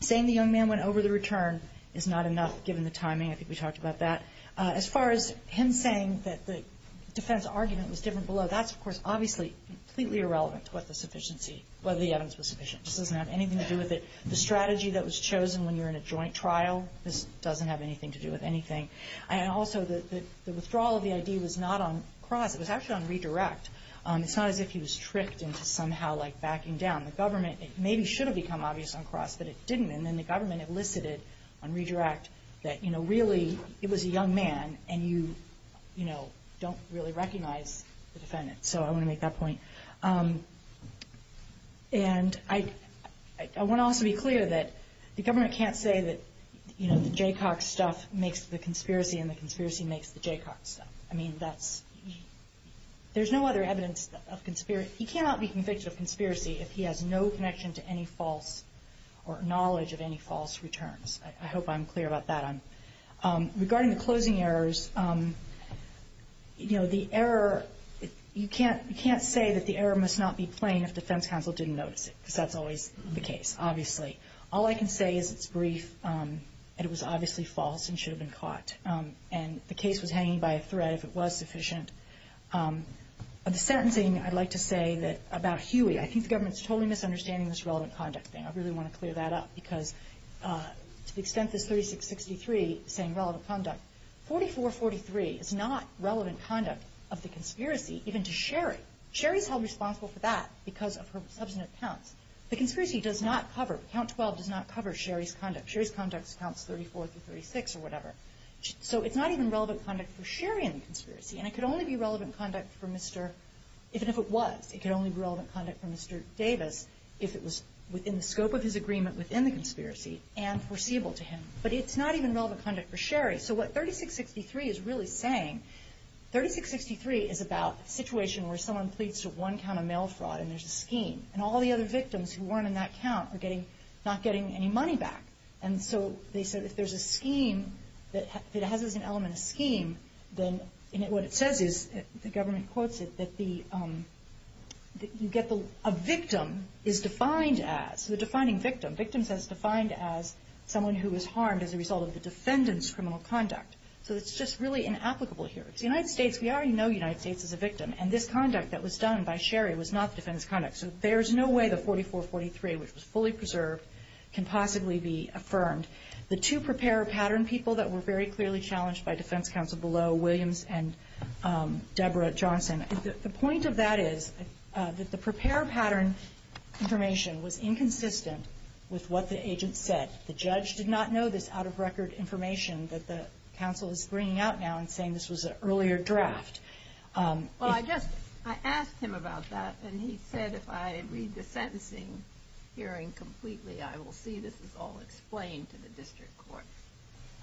Saying the young man went over the return is not enough, given the timing. I think we talked about that. As far as him saying that the defense argument was different below, that's, of course, obviously completely irrelevant to what the evidence was sufficient. It doesn't have anything to do with it. The strategy that was chosen when you're in a joint trial doesn't have anything to do with anything. Also, the withdrawal of the ID was not on cross, it was actually on redirect. It's not as if he was tricked into somehow backing down. The government maybe should have become obvious on cross, but it didn't, and then the government elicited on redirect that really it was a young man and you don't really recognize the defendant, so I want to make that point. I want to also be clear that the government can't say that the Jay Cox stuff makes the conspiracy and the conspiracy makes the Jay Cox stuff. I mean, there's no other evidence of conspiracy. He cannot be convicted of conspiracy if he has no connection to any false or knowledge of any false returns. I hope I'm clear about that. Regarding the closing errors, you know, the error, you can't say that the error must not be plain if the defense counsel didn't notice it, because that's always the case, obviously. All I can say is it's brief and it was obviously false and should have been caught, and the case was hanging by a thread if it was sufficient. The sentencing, I'd like to say that about Huey, I think the government is totally misunderstanding this relevant conduct thing. I really want to clear that up, because the extensive 3663 saying relevant conduct, 4443 is not relevant conduct of the conspiracy, even to Sherry. Sherry's held responsible for that because of her substantive count. The conspiracy does not cover, count 12 does not cover Sherry's conduct. Sherry's conduct is count 34 to 36 or whatever. So it's not even relevant conduct for Sherry in the conspiracy, and it could only be relevant conduct for Mr., even if it was, it could only be relevant conduct for Mr. Davis if it was within the scope of his agreement within the conspiracy and foreseeable to him. But it's not even relevant conduct for Sherry. So what 3663 is really saying, 3663 is about a situation where someone pleads to one count of mail fraud and there's a scheme, and all the other victims who weren't in that count are getting, not getting any money back. And so they said if there's a scheme that has an element of scheme, then what it says is, the government quotes it, that the, that you get the, a victim is defined as, the defining victim. Victim is defined as someone who is harmed as a result of the defendant's criminal conduct. So it's just really inapplicable here. The United States, we already know the United States is the victim, and this conduct that was done by Sherry was not the defendant's conduct. So there's no way that 4443, which was fully preserved, can possibly be affirmed. The two preparer pattern people that were very clearly challenged by defense counsel below, Williams and Deborah Johnson, the point of that is, that the preparer pattern information was inconsistent with what the agent said. The judge did not know this out-of-record information that the counsel is bringing out now and saying this was an earlier draft. Well, I just, I asked him about that, and he said if I read the sentencing hearing completely, I will see this is all explained to the district court.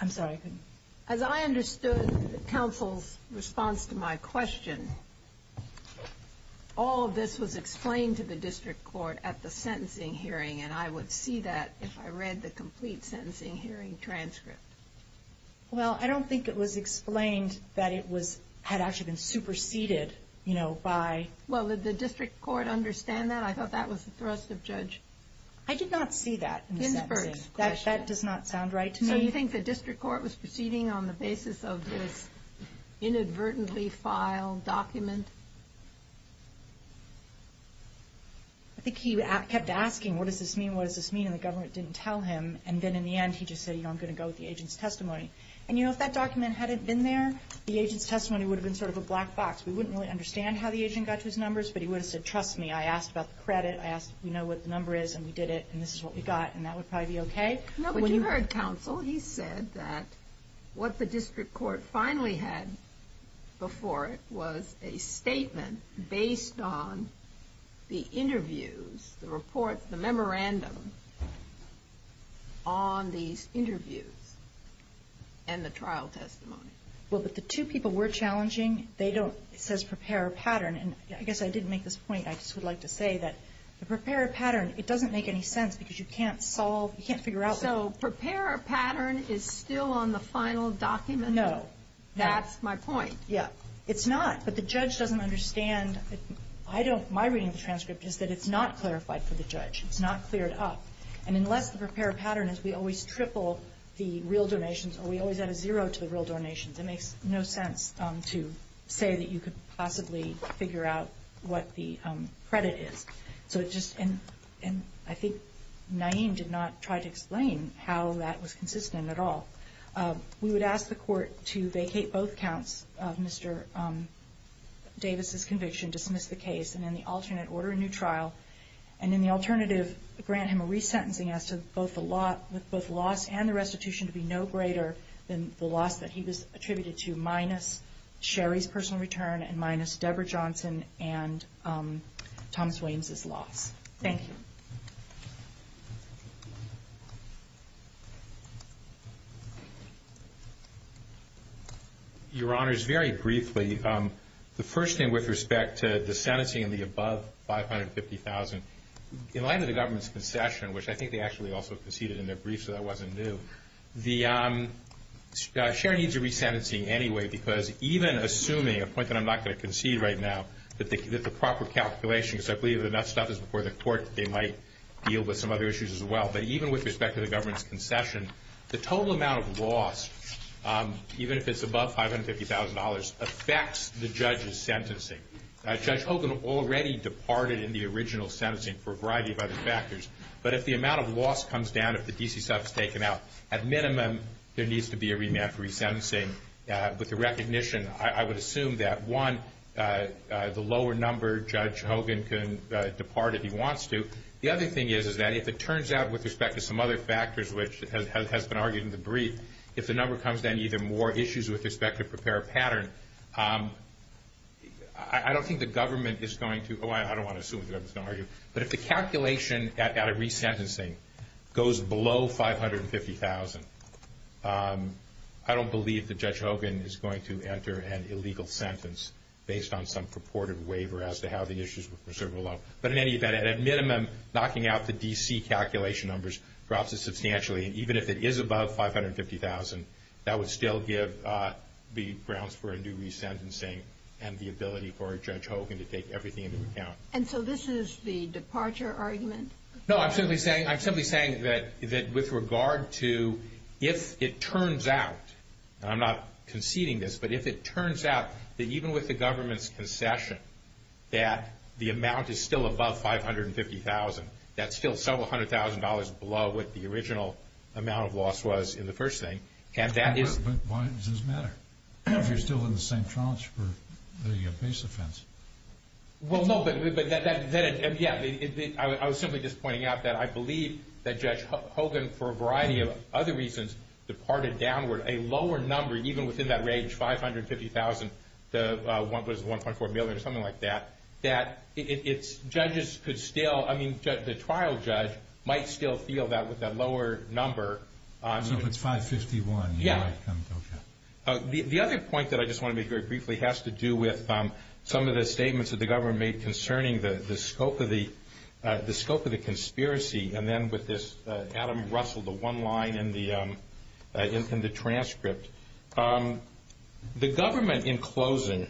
I'm sorry, I couldn't. As I understood the counsel's response to my question, all of this was explained to the district court at the sentencing hearing, and I would see that if I read the complete sentencing hearing transcript. Well, I don't think it was explained that it was, had actually been superseded, you know, by. Well, did the district court understand that? I thought that was the thrust of judge. I did not see that. That does not sound right to me. So you think the district court was proceeding on the basis of the inadvertently filed document? I think he kept asking what does this mean, what does this mean, and the government didn't tell him, and then in the end he just said, you know, I'm going to go with the agent's testimony. And, you know, if that document hadn't been there, the agent's testimony would have been sort of a black box. We wouldn't really understand how the agent got his numbers, but he would have said, trust me, I asked about the credit, I asked, you know, what the number is, and we did it, and this is what we got, and that would probably be okay. No, but you heard counsel. He said that what the district court finally had before it was a statement based on the interviews, the reports, the memorandum on the interview and the trial testimony. Well, but the two people were challenging. They don't, it says prepare a pattern, and I guess I did make this point. I just would like to say that the prepare a pattern, it doesn't make any sense because you can't solve, you can't figure out. So prepare a pattern is still on the final document? No. That's my point. Yeah. It's not, but the judge doesn't understand. I don't, my reading of the transcript is that it's not clarified for the judge. It's not cleared up, and unless the prepare a pattern is we always triple the real donations or we always add a zero to the real donations, it makes no sense to say that you could possibly figure out what the credit is. So it just, and I think Naeem did not try to explain how that was consistent at all. We would ask the court to vacate both counts of Mr. Davis' conviction, dismiss the case, and then the alternate order a new trial, and then the alternative grant him a resentencing with both loss and a restitution to be no greater than the loss that he was attributed to, minus Sherry's personal return and minus Deborah Johnson and Thomas Wayne's loss. Thank you. Your Honors, very briefly, the first thing with respect to the sanity in the above $550,000, in light of the government's concession, which I think they actually also conceded in their brief, so that wasn't new, the, Sherry needs a resentencing anyway, because even assuming, a point that I'm not going to concede right now, that the proper calculation, because I believe if that stuff is before the court, they might deal with some other issues as well. But even with respect to the government's concession, the total amount of loss, even if it's above $550,000, affects the judge's sentencing. Judge Hogan already departed in the original sentencing for a variety of other factors. But if the amount of loss comes down, if the DC sub is taken out, at minimum there needs to be a remand for resentencing. But the recognition, I would assume that, one, the lower number, Judge Hogan can depart if he wants to. The other thing is, is that if it turns out with respect to some other factors, which has been argued in the brief, if the number comes down, there's going to be even more issues with respect to prepare a pattern. I don't think the government is going to, oh, I don't want to assume, but if the calculation at a resentencing goes below $550,000, I don't believe that Judge Hogan is going to enter an illegal sentence, based on some purported waiver as to how the issues were preserved below. But in any event, at minimum, knocking out the DC calculation numbers, and even if it is above $550,000, that would still give the grounds for a new resentencing and the ability for Judge Hogan to take everything into account. And so this is the departure argument? No, I'm simply saying that with regard to if it turns out, and I'm not conceding this, but if it turns out that even with the government's concession that the amount is still above $550,000, that's still several hundred thousand dollars below what the original amount of loss was in the first thing. But why does this matter? You're still in the same trounce for making a base offense. Well, no, but I was simply just pointing out that I believe that Judge Hogan, for a variety of other reasons, departed downward a lower number, even within that range, $550,000 to $1.4 million or something like that, that it's, judges could still, I mean the trial judge might still feel that with that lower number. So if it's $551,000? Yes. Okay. The other point that I just want to make very briefly has to do with some of the statements that the government made concerning the scope of the conspiracy, and then with this Adam Russell, the one line in the transcript. The government, in closing,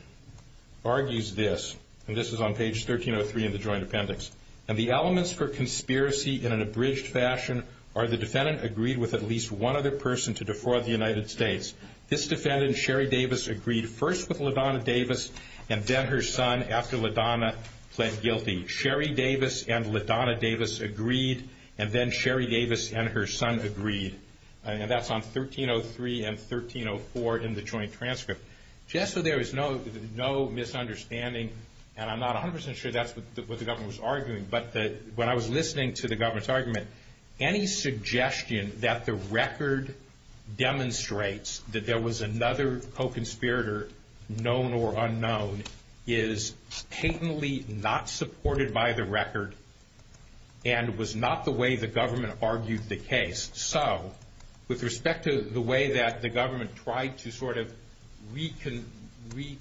argues this, and this is on page 1303 in the joint appendix, and the elements for conspiracy in an abridged fashion are the defendant agreed with at least one other person to defraud the United States. This defendant, Sherry Davis, agreed first with LaDonna Davis and then her son after LaDonna pled guilty. Sherry Davis and LaDonna Davis agreed, and then Sherry Davis and her son agreed. And that's on 1303 and 1304 in the joint transcript. Just so there is no misunderstanding, and I'm not 100% sure that's what the government was arguing, but when I was listening to the government's argument, any suggestion that the record demonstrates that there was another co-conspirator, known or unknown, is patently not supported by the record and was not the way the government argued the case. So, with respect to the way that the government tried to sort of reconfigure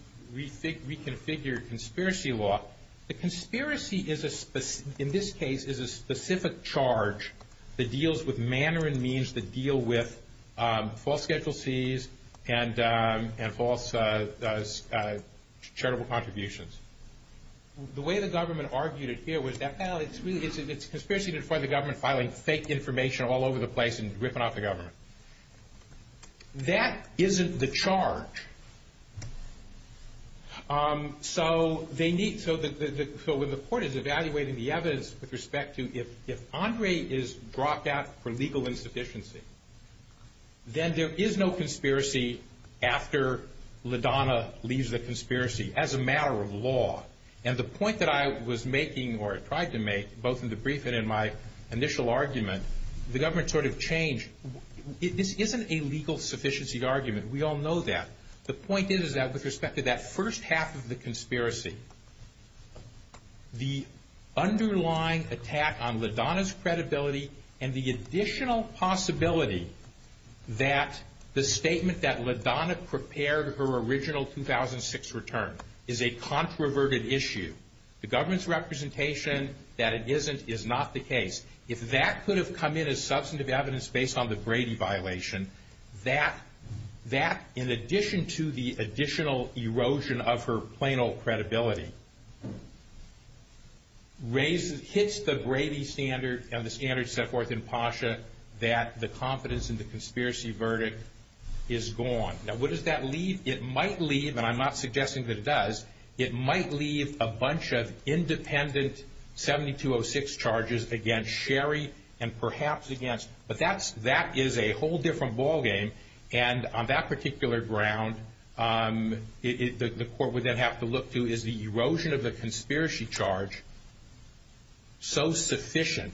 conspiracy law, the conspiracy, in this case, is a specific charge that deals with manner and means to deal with false penalties and false charitable contributions. The way the government argued it here was that, well, it's conspiracy to defraud the government by filing fake information all over the place and ripping off the government. That isn't the charge. So, they need, so when the court is evaluating the evidence with respect to, if Andre is brought back for legal insufficiency, then there is no conspiracy after LaDonna leaves the conspiracy as a matter of law. And the point that I was making, or tried to make, both in the briefing and in my initial argument, the government sort of changed. This isn't a legal sufficiency argument. We all know that. The point is that with respect to that first half of the conspiracy, the underlying attack on LaDonna's credibility and the additional possibility that the statement that LaDonna prepared her original 2006 return is a controverted issue. The government's representation that it isn't is not the case. If that could have come in as substantive evidence based on the Brady violation, that, in addition to the additional erosion of her plain old credibility, hits the Brady standard and the standard set forth in PASHA, that the confidence in the conspiracy verdict is gone. Now, what does that leave? It might leave, and I'm not suggesting that it does, it might leave a bunch of independent 7206 charges against Sherry and perhaps against, but that is a whole different ballgame. And on that particular ground, the court would then have to look to, is the erosion of the conspiracy charge so sufficient,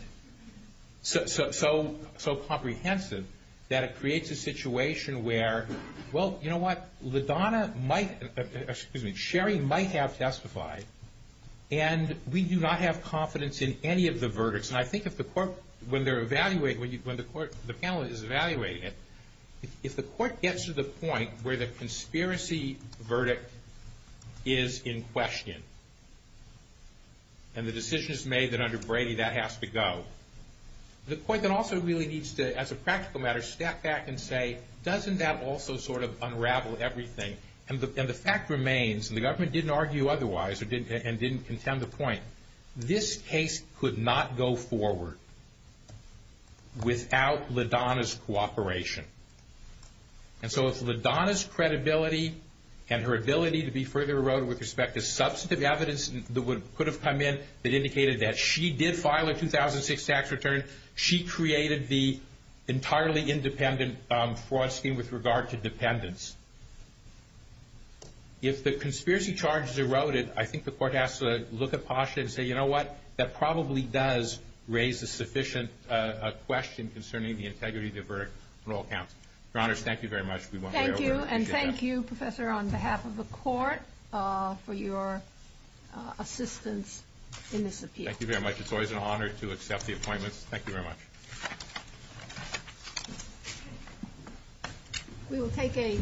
so comprehensive, that it creates a situation where, well, you know what, LaDonna might, excuse me, Sherry might have testified, and we do not have confidence in any of the verdicts. And I think if the court, when they're evaluating, when the panel is evaluating it, if the court gets to the point where the conspiracy verdict is in question, and the decision is made that under Brady that has to go, the court then also really needs to, as a practical matter, step back and say, doesn't that also sort of unravel everything? And the fact remains, and the government didn't argue otherwise and didn't contend the point, this case could not go forward without LaDonna's cooperation. And so if LaDonna's credibility and her ability to be further eroded with respect to substantive evidence that could have come in that indicated that she did file a 2006 tax return, she created the entirely independent fraud scheme with regard to dependents. If the conspiracy charges eroded, I think the court has to look at Posh and say, you know what, that probably does raise a sufficient question concerning the integrity of the verdict on all counts. Your Honors, thank you very much. Thank you, and thank you, Professor, on behalf of the court, for your assistance in this appeal. Thank you very much. It's always an honor to accept the appointment. Thank you very much. We will take a brief recess.